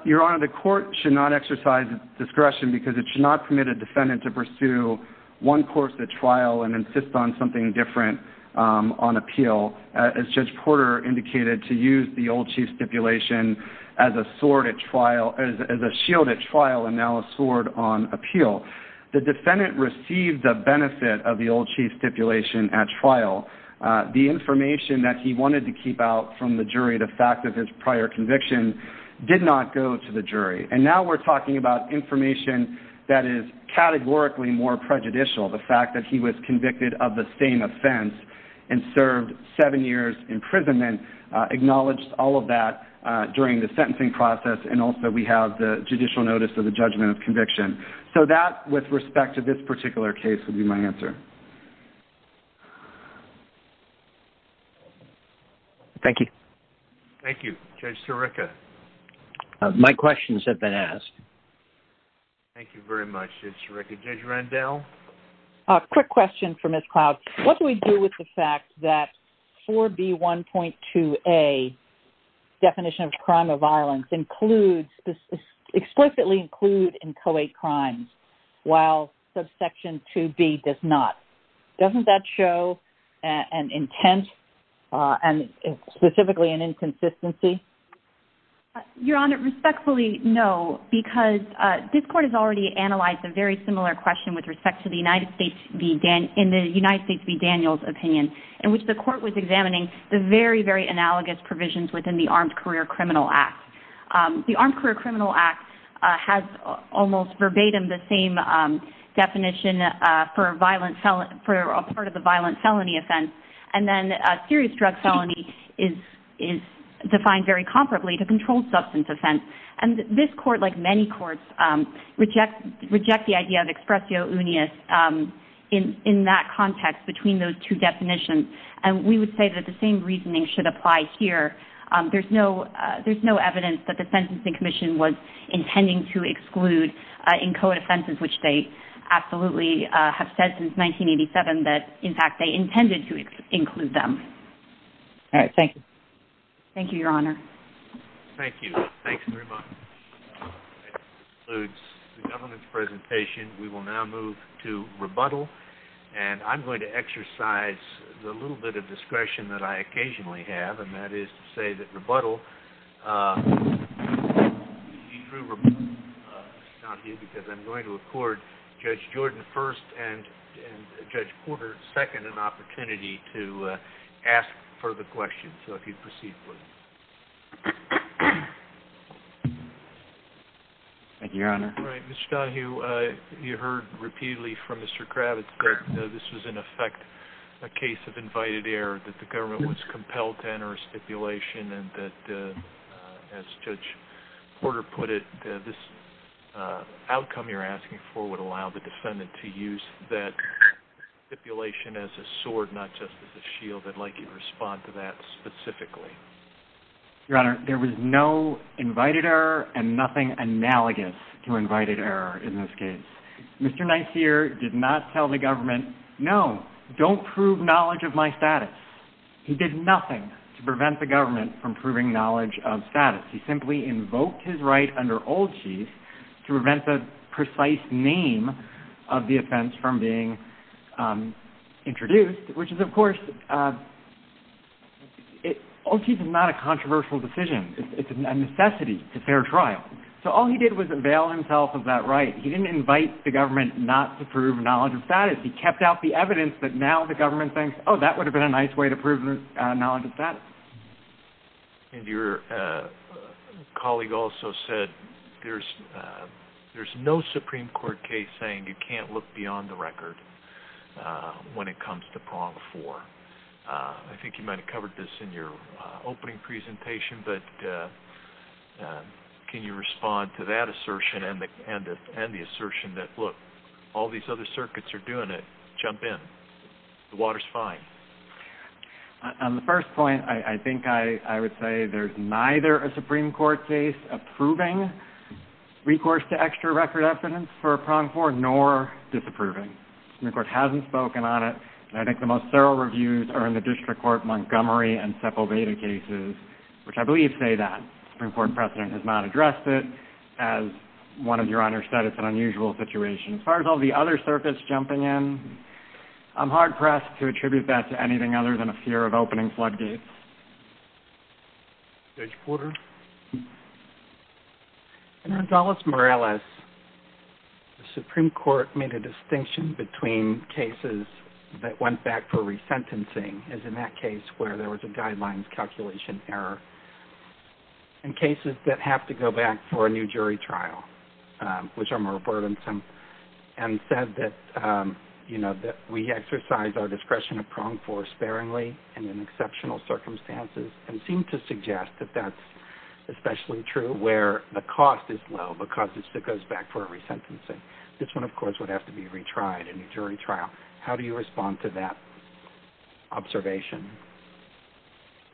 Your Honor, the Court should not exercise discretion because it should not permit a defendant to pursue one course at trial and insist on something different on appeal. As Judge Porter indicated, to use the old chief stipulation as a sword at trial, as a shield at trial and now a sword on appeal. The defendant received the benefit of the old chief stipulation at trial. The information that he wanted to keep out from the jury, the fact that there's prior conviction, did not go to the jury. Now we're talking about information that is categorically more prejudicial. The fact that he was convicted of the same offense and served seven years imprisonment, acknowledged all of that during the sentencing process, and also we have the judicial notice of the judgment of conviction. So that, with respect to this particular case, would be my answer. Thank you. Thank you. Judge Sirica? My question has been asked. Thank you very much, Judge Sirica. Judge Rendell? A quick question for Ms. Cloud. What do we do with the fact that 4B1.2a, definition of crime of violence, explicitly include in Co-A crimes, while subsection 2B does not? Doesn't that show an intent and specifically an inconsistency? Your Honor, respectfully, no, because this court has already analyzed a very similar question with respect to the United States v. Daniels opinion, in which the court was examining the very, very analogous provisions within the Armed Career Criminal Act. The Armed Career Criminal Act has almost verbatim the same definition for a part of the violent felony offense, and then a serious drug felony is defined very comparably to controlled substance offense. And this court, like many courts, reject the idea of expressio unius in that context between those two definitions, and we would say that the same reasoning should apply here. There's no evidence that the Sentencing Commission was intending to exclude in Co-A offenses, which they absolutely have said since 1987 that, in fact, they intended to include them. All right. Thank you. Thank you, Your Honor. Thank you. Thanks very much. That concludes the government's presentation. We will now move to rebuttal, and I'm going to exercise the little bit of discretion that I occasionally have, and that is to say that rebuttal is not due because I'm going to accord Judge Jordan first and Judge Porter second an opportunity to ask further questions, so if you'd proceed, please. Thank you, Your Honor. All right. Mr. Donohue, you heard repeatedly from Mr. Kravitz that this was, in effect, a case of invited error, that the government was compelled to enter a stipulation, and that, as Judge Porter put it, this outcome you're asking for would allow the defendant to use that stipulation as a sword, not just as a shield. I'd like you to respond to that specifically. Your Honor, there was no invited error and nothing analogous to invited error in this case. Mr. Nice here did not tell the government, no, don't prove knowledge of my status. He did nothing to prevent the government from proving knowledge of status. He simply invoked his right under Old Chief to prevent the precise name of the offense from being introduced, which is, of course, Old Chief is not a controversial decision. It's a necessity. It's a fair trial. So all he did was avail himself of that right. He didn't invite the government not to prove knowledge of status. He kept out the evidence that now the government thinks, oh, that would have been a nice way to prove knowledge of status. And your colleague also said there's no Supreme Court case saying you can't look beyond the record when it comes to Prong Four. I think you might have covered this in your opening presentation, but can you respond to that assertion and the assertion that, look, all these other circuits are doing it. Jump in. The water's fine. On the first point, I think I would say there's neither a Supreme Court case approving recourse to extra record evidence for a Prong Four nor disapproving. The Supreme Court hasn't spoken on it, and I think the most thorough reviews are in the district court Montgomery and Sepulveda cases, which I believe say that. The Supreme Court precedent has not addressed it as one of your honor's status in an unusual situation. As far as all the other circuits jumping in, I'm hard-pressed to attribute that to anything other than a fear of opening floodgates. Judge Porter? In Gonzalez-Morales, the Supreme Court made a distinction between cases that went back for resentencing, as in that case where there was a guidelines calculation error, and cases that have to go back for a new jury trial, which I'm reverent in, and said that, you know, that we exercise our discretion of Prong Four sparingly and in exceptional circumstances, and seem to suggest that that's especially true where the cost is low because it goes back for a resentencing. This one, of course, would have to be retried in a jury trial. How do you respond to that observation?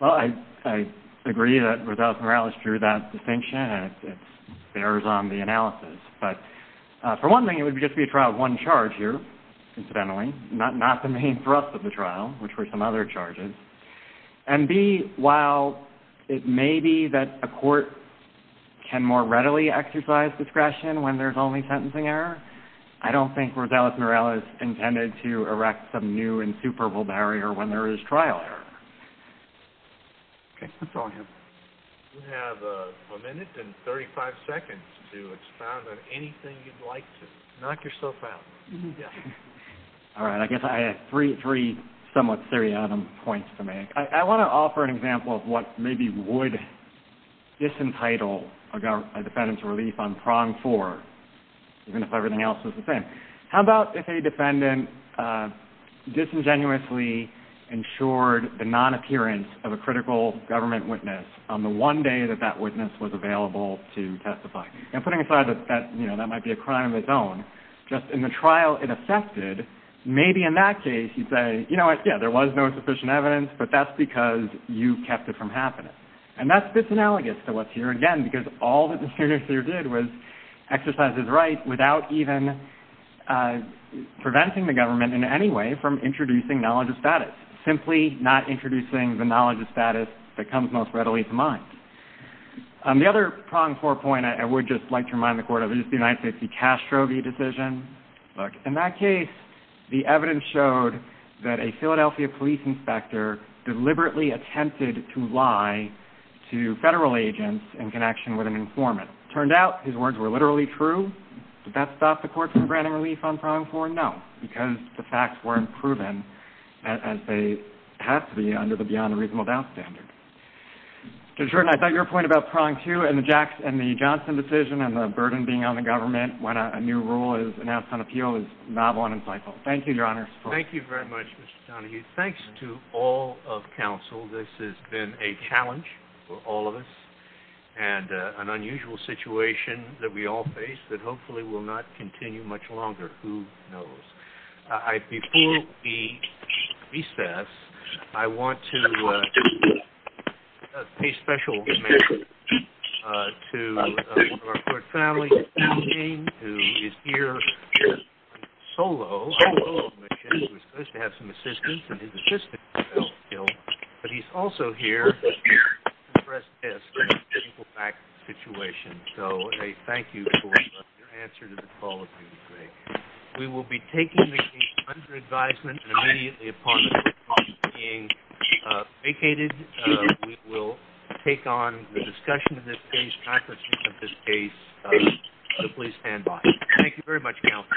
Well, I agree that with Gonzalez-Morales, it's true that distinction, and it bears on the analysis. But for one thing, it would just be a trial of one charge here, incidentally, not the main thrust of the trial, which were some other charges. And B, while it may be that a court can more readily exercise discretion when there's only sentencing error, I don't think Gonzalez-Morales intended to erect some new and superb barrier when there is trial error. Okay, Mr. Folger? You have a minute and 35 seconds to respond on anything you'd like to. Knock yourself out. All right, I guess I have three somewhat seriatim points for me. I want to offer an example of what maybe would disentitle a defendant to relief on prong four, even if everything else was the same. How about if a defendant disingenuously ensured the non-appearance of a critical government witness on the one day that that witness was available to testify? And putting aside that that might be a crime of its own, just in the trial it affected, maybe in that case you'd say, you know what, yeah, there was no sufficient evidence, but that's because you kept it from happening. And that's a bit analogous to what's here again, because all that the senator did was exercise his right without even preventing the government in any way from introducing knowledge of status, simply not introducing the knowledge of status that comes most readily to mind. The other prong four point I would just like to remind the court of is the United States' D'Castro v. Decision. In that case, the evidence showed that a Philadelphia police inspector deliberately attempted to lie to federal agents in connection with an informant. It turned out his words were literally true. Did that stop the court from granting relief on prong four? No, because the facts weren't proven as they have to be under the beyond the reasonable doubt standard. I thought your point about prong two and the Johnson decision and the burden being on the government when a new rule is announced on appeal is novel and insightful. Thank you, Your Honor. Thank you very much, Mr. Donahue. Thanks to all of counsel. This has been a challenge for all of us and an unusual situation that we all face that hopefully will not continue much longer. Who knows? Before we recess, I want to pay special attention to our court family, Eugene, who is here solo. He was supposed to have some assistance, and his assistant was killed, but he's also here to address this difficult fact situation. So a thank you for your answer to the call I made today. We will be taking the case under advisement, and immediately upon the call being vacated, we will take on the discussion of this case, application of this case. So please stand by. Thank you very much, counsel.